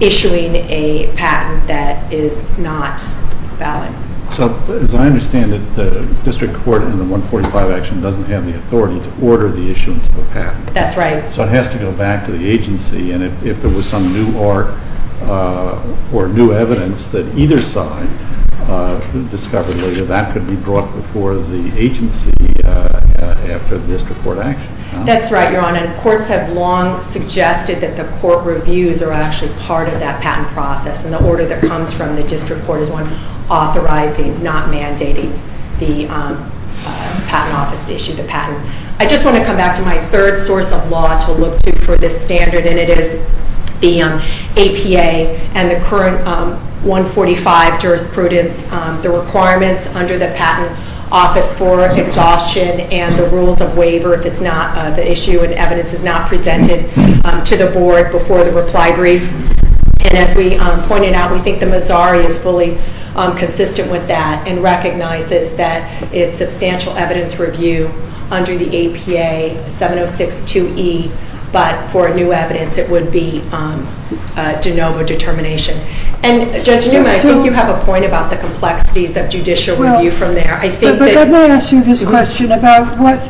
issuing a patent that is not valid. So as I understand it, the district court in the 145 action doesn't have the authority to order the issuance of a patent. That's right. So it has to go back to the agency and if there was some new part or new evidence that either side discovered that that could be brought before the agency after the district court action. That's right, your honor. Courts have long suggested that the court reviews are actually part of that patent process and the order that comes from the district court is one authorizing not mandating the patent office to issue the patent. I just want to come back to my third source of law to look to for this standard and it is the APA and the current 145 jurisprudence the requirements under the patent office for exhaustion and the rules of waiver if it's not the issue and evidence is not presented to the board before the reply brief and as we pointed out, we think the Missouri is fully consistent with that and recognizes that it's substantial evidence review under the APA 7062E but for new evidence it would be de novo determination and judge I think you have a point about the complexities of judicial review from there. Let me ask you this question about what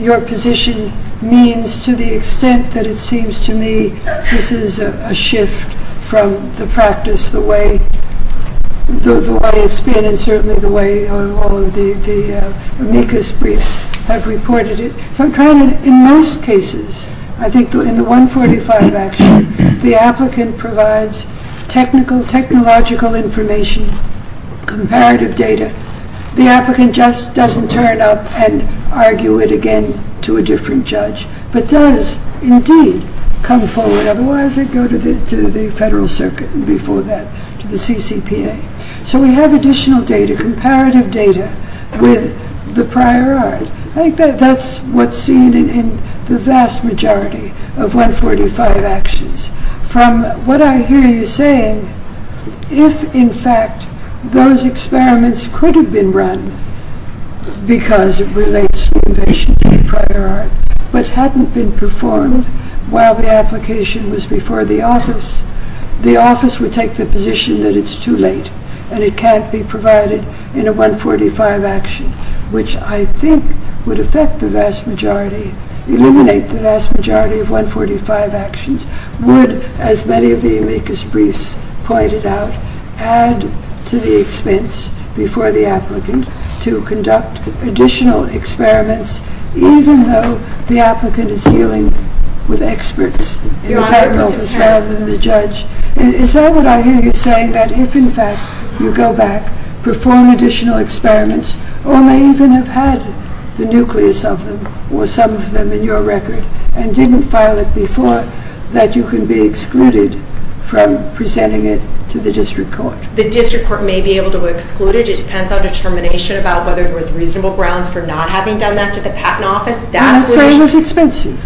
your position means to the extent that it seems to me this is a shift from the practice the way it's been and certainly the way all of the amicus briefs have reported it. In most cases I think in the 145 the applicant provides technological information, comparative data, the applicant just doesn't turn up and argue it again to a different judge but does indeed come forward otherwise they go to the federal circuit and before that to the CCPA. So we have additional data, comparative data with the prior art. I think that's what's seen in the vast majority of 145 actions from what I hear you saying if in fact those experiments could have been run because it relates to prior art but hadn't been performed while the application was before the office the office would take the position that it's too late and it can't be provided in a 145 action which I think would affect the vast majority eliminate the vast majority of 145 actions would as many of the amicus briefs pointed out add to the expense before the applicant to conduct additional experiments even though the applicant is dealing with experts rather than the judge is that what I hear you saying that if in fact you go back perform additional experiments or may even have had the nucleus of them or some of them in your record and didn't file it before that you can be excluded from presenting it to the district court. The district court may be able to exclude it. It depends on determination about whether there was reasonable grounds for not having done that to the patent office. So it was expensive.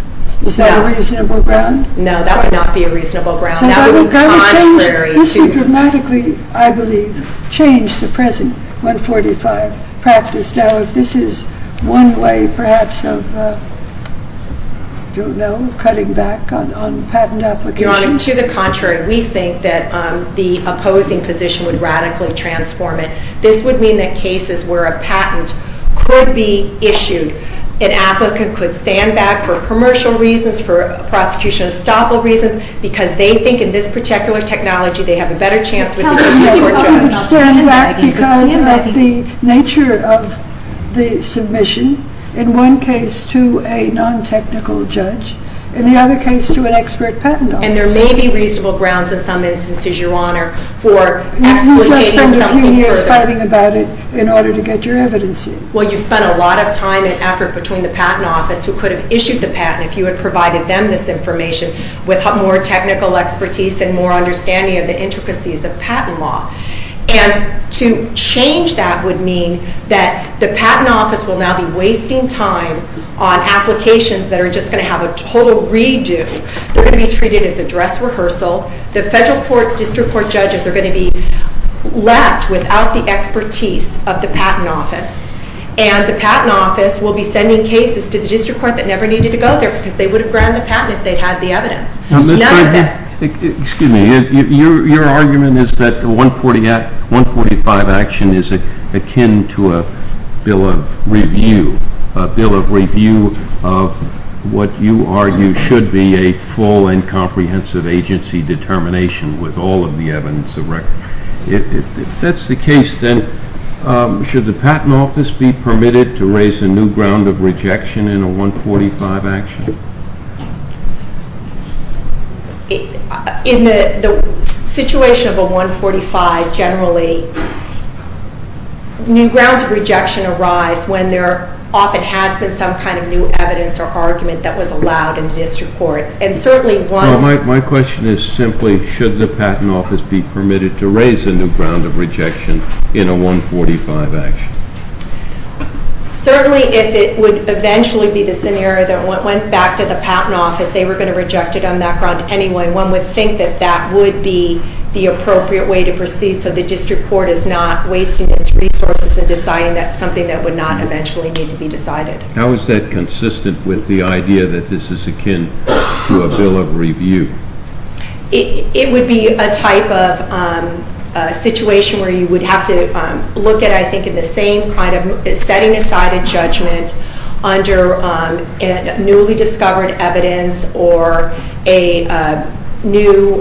Was that a reasonable ground? No, that would not be a reasonable ground. This would dramatically I believe change the present 145 practice. Now if this is one way perhaps of I don't know, cutting back on patent applications. Your Honor to the contrary we think that the opposing position would radically transform it. This would mean that cases where a patent could be issued, an applicant could stand back for commercial reasons, for prosecution of estoppel reasons because they think in this particular technology they have a better chance with the district court judge. You would stand back because of the nature of the submission. In one case to a non-technical judge. In the other case to an expert patent office. And there may be reasonable grounds in some instances Your Honor for excluding something further. You've just spent a few years fighting about it in order to get your evidence in. Well you've spent a lot of time and effort between the patent office who could have issued the patent if you had provided them this information with more technical expertise and more understanding of the intricacies of patent law. And to change that would mean that the patent office will now be wasting time on applications that are just going to have a total redo. They're going to be treated as a dress rehearsal. The federal court, district court judges are going to be left without the expertise of the patent office. And the patent office will be sending cases to the district court that never needed to go there because they would have granted the patent if they had the evidence. Excuse me. Your argument is that the 145 action is akin to a bill of review. A bill of review of what you argue should be a full and comprehensive agency determination with all of the evidence of record. If that's the case then should the patent office be permitted to raise a new ground of rejection in a 145 action? In the situation of a 145 generally new grounds of rejection arise when there often has been some kind of new evidence or argument that was allowed in the district court. And certainly once... My question is simply should the patent office be permitted to raise a new ground of rejection in a 145 action? Certainly if it would eventually be the scenario that went back to the patent office they were going to reject it on that ground anyway one would think that that would be the appropriate way to proceed so the district court is not wasting its resources in deciding that's something that would not eventually need to be decided. How is that consistent with the idea that this is akin to a bill of review? It would be a type of situation where you would have to look at I think in the same kind of setting aside a judgment under newly discovered evidence or a new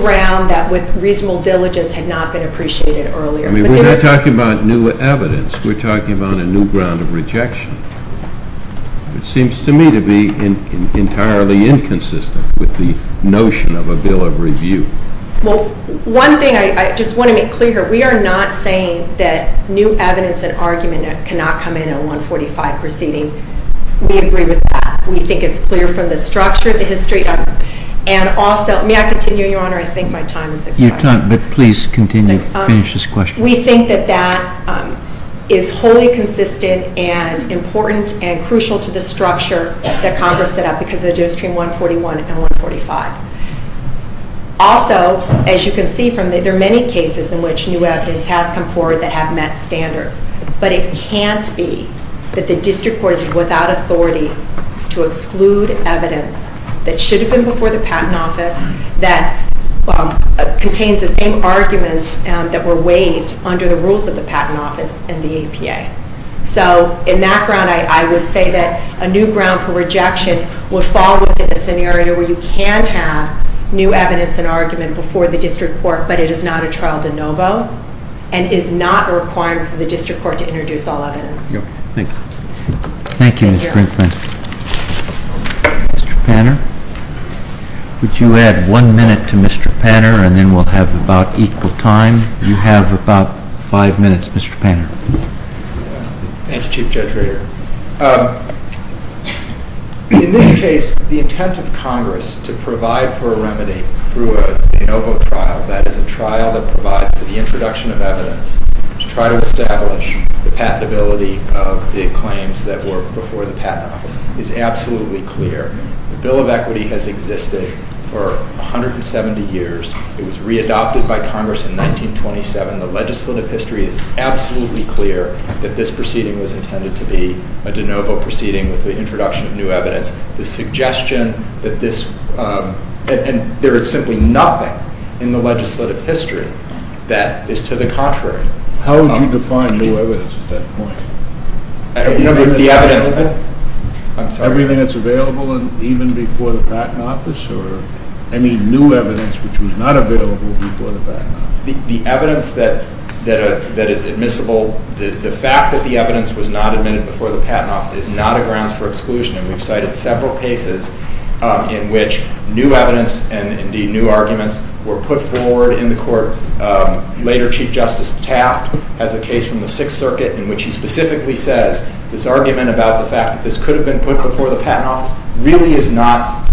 ground that with reasonable diligence had not been appreciated earlier. We're not talking about new evidence. We're talking about a new ground of rejection. It seems to me to be entirely inconsistent with the notion of a bill of review. Well, one thing I just want to make clear here. We are not saying that new evidence and argument cannot come in a 145 proceeding. We agree with that. We think it's clear from the structure, the history and also may I continue Your Honor? I think my time is up. Your time, but please continue. Finish this question. We think that that is wholly consistent and important and crucial to the structure that Congress set up because of the difference between 141 and 145. Also, as you can see, there are many cases in which new evidence has come forward that have met standards, but it can't be that the District Court is without authority to exclude evidence that should have been before the Patent Office that contains the same arguments that were waived under the rules of the Patent Office and the APA. So, in that ground, I would say that a new ground for rejection would fall within a scenario where you can have new evidence and argument before the District Court, but it is not a trial de novo and is not a requirement for the District Court to introduce all evidence. Thank you. Thank you, Ms. Brinkman. Mr. Panner, would you add one minute to Mr. Panner and then we'll have about equal time. You have about five minutes, Mr. Panner. Thank you, Chief Judge Rader. In this case, the intent of Congress to provide for a remedy through a de novo trial, that is a trial that provides for the introduction of evidence to try to establish the patentability of the claims that were before the Patent Office is absolutely clear. The Bill of Equity has existed for 170 years. It was readopted by Congress in 1927. The legislative history is absolutely clear that this proceeding was intended to be a de novo proceeding with the introduction of new evidence. The suggestion that this and there is simply nothing in the legislative history that is to the contrary. How would you define new evidence at that point? Everything that's available and even before the Patent Office or any new evidence which was not available before the Patent Office? The evidence that is admissible, the fact that the evidence was not admitted before the Patent Office is not a grounds for exclusion and we've cited several cases in which new evidence and indeed new arguments were put forward in the Court. Later, Chief Justice Taft has a case from the Sixth Circuit in which he specifically says this argument about the fact that this could have been put before the Patent Office really is not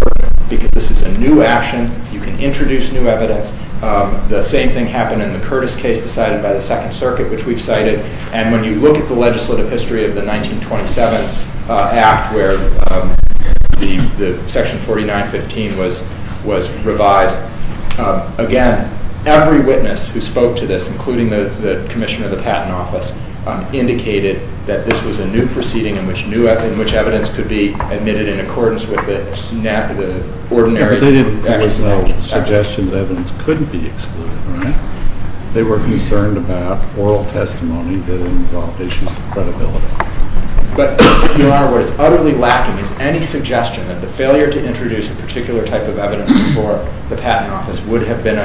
because this is a new action. You can introduce new evidence. The same thing happened in the Curtis case decided by the Second Circuit which we've cited and when you look at the legislative history of the 1927 Act where Section 4915 was revised again, every witness who spoke to this including the Commissioner of the Patent Office indicated that this was a new proceeding in which evidence could be admitted in accordance with the ordinary... There was no suggestion that evidence couldn't be admitted. I'm concerned about oral testimony that involved issues of credibility. But, Your Honor, what is utterly lacking is any suggestion that the failure to introduce a particular type of evidence before the Patent Office would have been,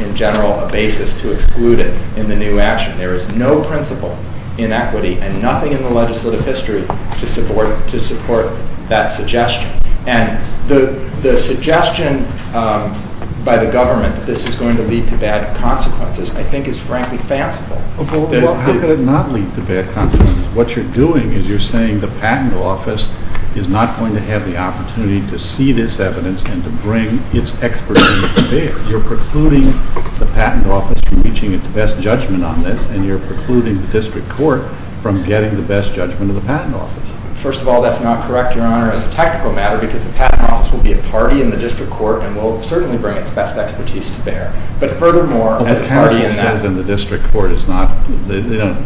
in general, a basis to exclude it in the new action. There is no principle in equity and nothing in the legislative history to support that suggestion and the suggestion by the government that this is going to lead to bad consequences, I think, is frankly fanciful. How could it not lead to bad consequences? What you're doing is you're saying the Patent Office is not going to have the opportunity to see this evidence and to bring its expertise to bear. You're precluding the Patent Office from reaching its best judgment on this and you're precluding the District Court from getting the best judgment of the Patent Office. First of all, that's not correct, Your Honor, as a technical matter because the Patent Office will be a party in the District Court and will certainly bring its best expertise to bear. But furthermore, as a party in that... As the District Court says,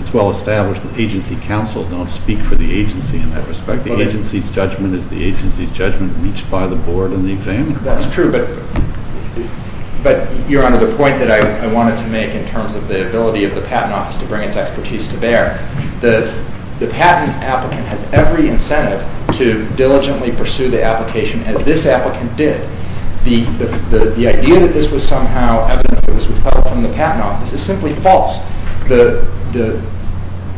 it's well established that agency counsel don't speak for the agency in that respect. The agency's judgment is the agency's judgment reached by the Board and the examiner. That's true, but Your Honor, the point that I wanted to make in terms of the ability of the Patent Office to bring its expertise to bear, the patent applicant has every incentive to diligently pursue the evidence that this applicant did. The idea that this was somehow evidence that this was held from the Patent Office is simply false. The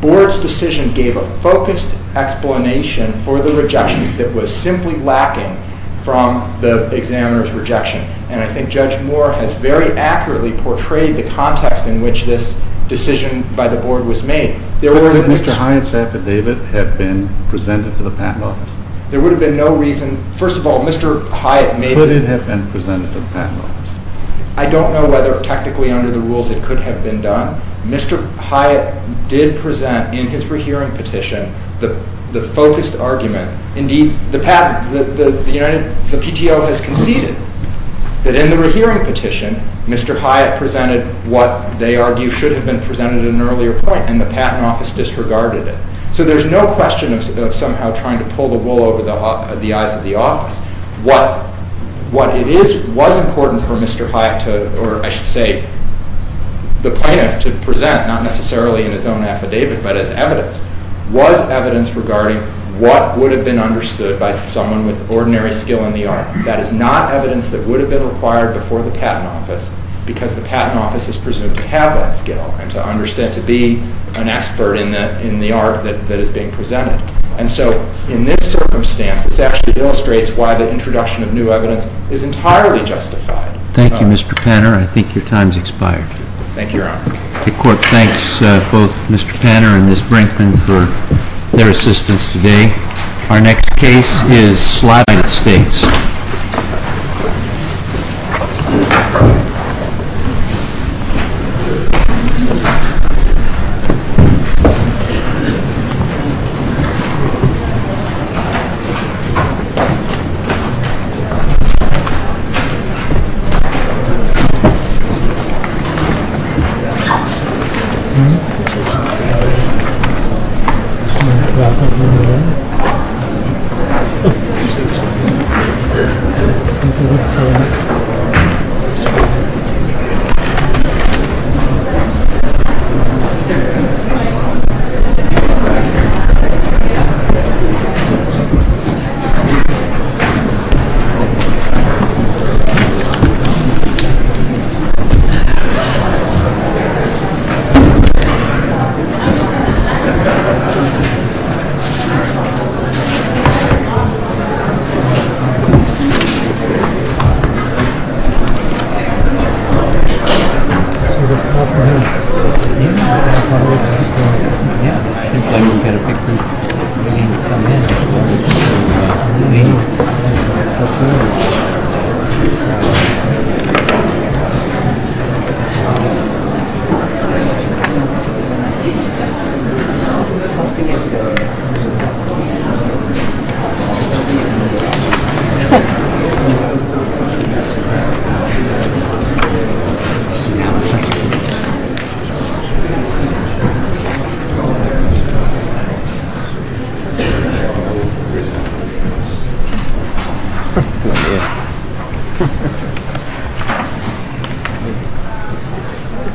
Board's decision gave a focused explanation for the rejections that was simply lacking from the examiner's rejection. And I think Judge Moore has very accurately portrayed the context in which this decision by the Board was made. There was... But would Mr. Hyatt's affidavit have been presented to the Patent Office? There would have been no reason... First of all, Mr. Hyatt made... Could it have been presented to the Patent Office? I don't know whether technically under the rules it could have been done. Mr. Hyatt did present in his rehearing petition the focused argument. Indeed, the PTO has conceded that in the rehearing petition, Mr. Hyatt presented what they argue should have been presented at an earlier point, and the Patent Office disregarded it. So there's no question of somehow trying to pull the wool over the eyes of the office. What it is, was important for Mr. Hyatt to, or I should say, the plaintiff to present not necessarily in his own affidavit, but as evidence, was evidence regarding what would have been understood by someone with ordinary skill in the art. That is not evidence that would have been required before the Patent Office because the Patent Office is presumed to have that skill and to understand, to be an expert in the art that is being presented. And so in this circumstance, this actually illustrates why the introduction of new evidence is entirely justified. Thank you, Mr. Panner. I think your time's expired. Thank you, Your Honor. The Court thanks both Mr. Panner and Ms. Brinkman for their assistance today. Our next case is Slavite States. SLAVITE STATES SLAVITE STATES SLAVITE STATES SLAVITE STATES SLAVITE STATES SLAVITE STATES SLAVITE STATES SLAVITE STATES SLAVITE STATES SLAVITE STATES SLAVITE STATES SLAVITE STATES SLAVITE STATES SLAVITE STATES SLAVITE STATES SLAVITE STATES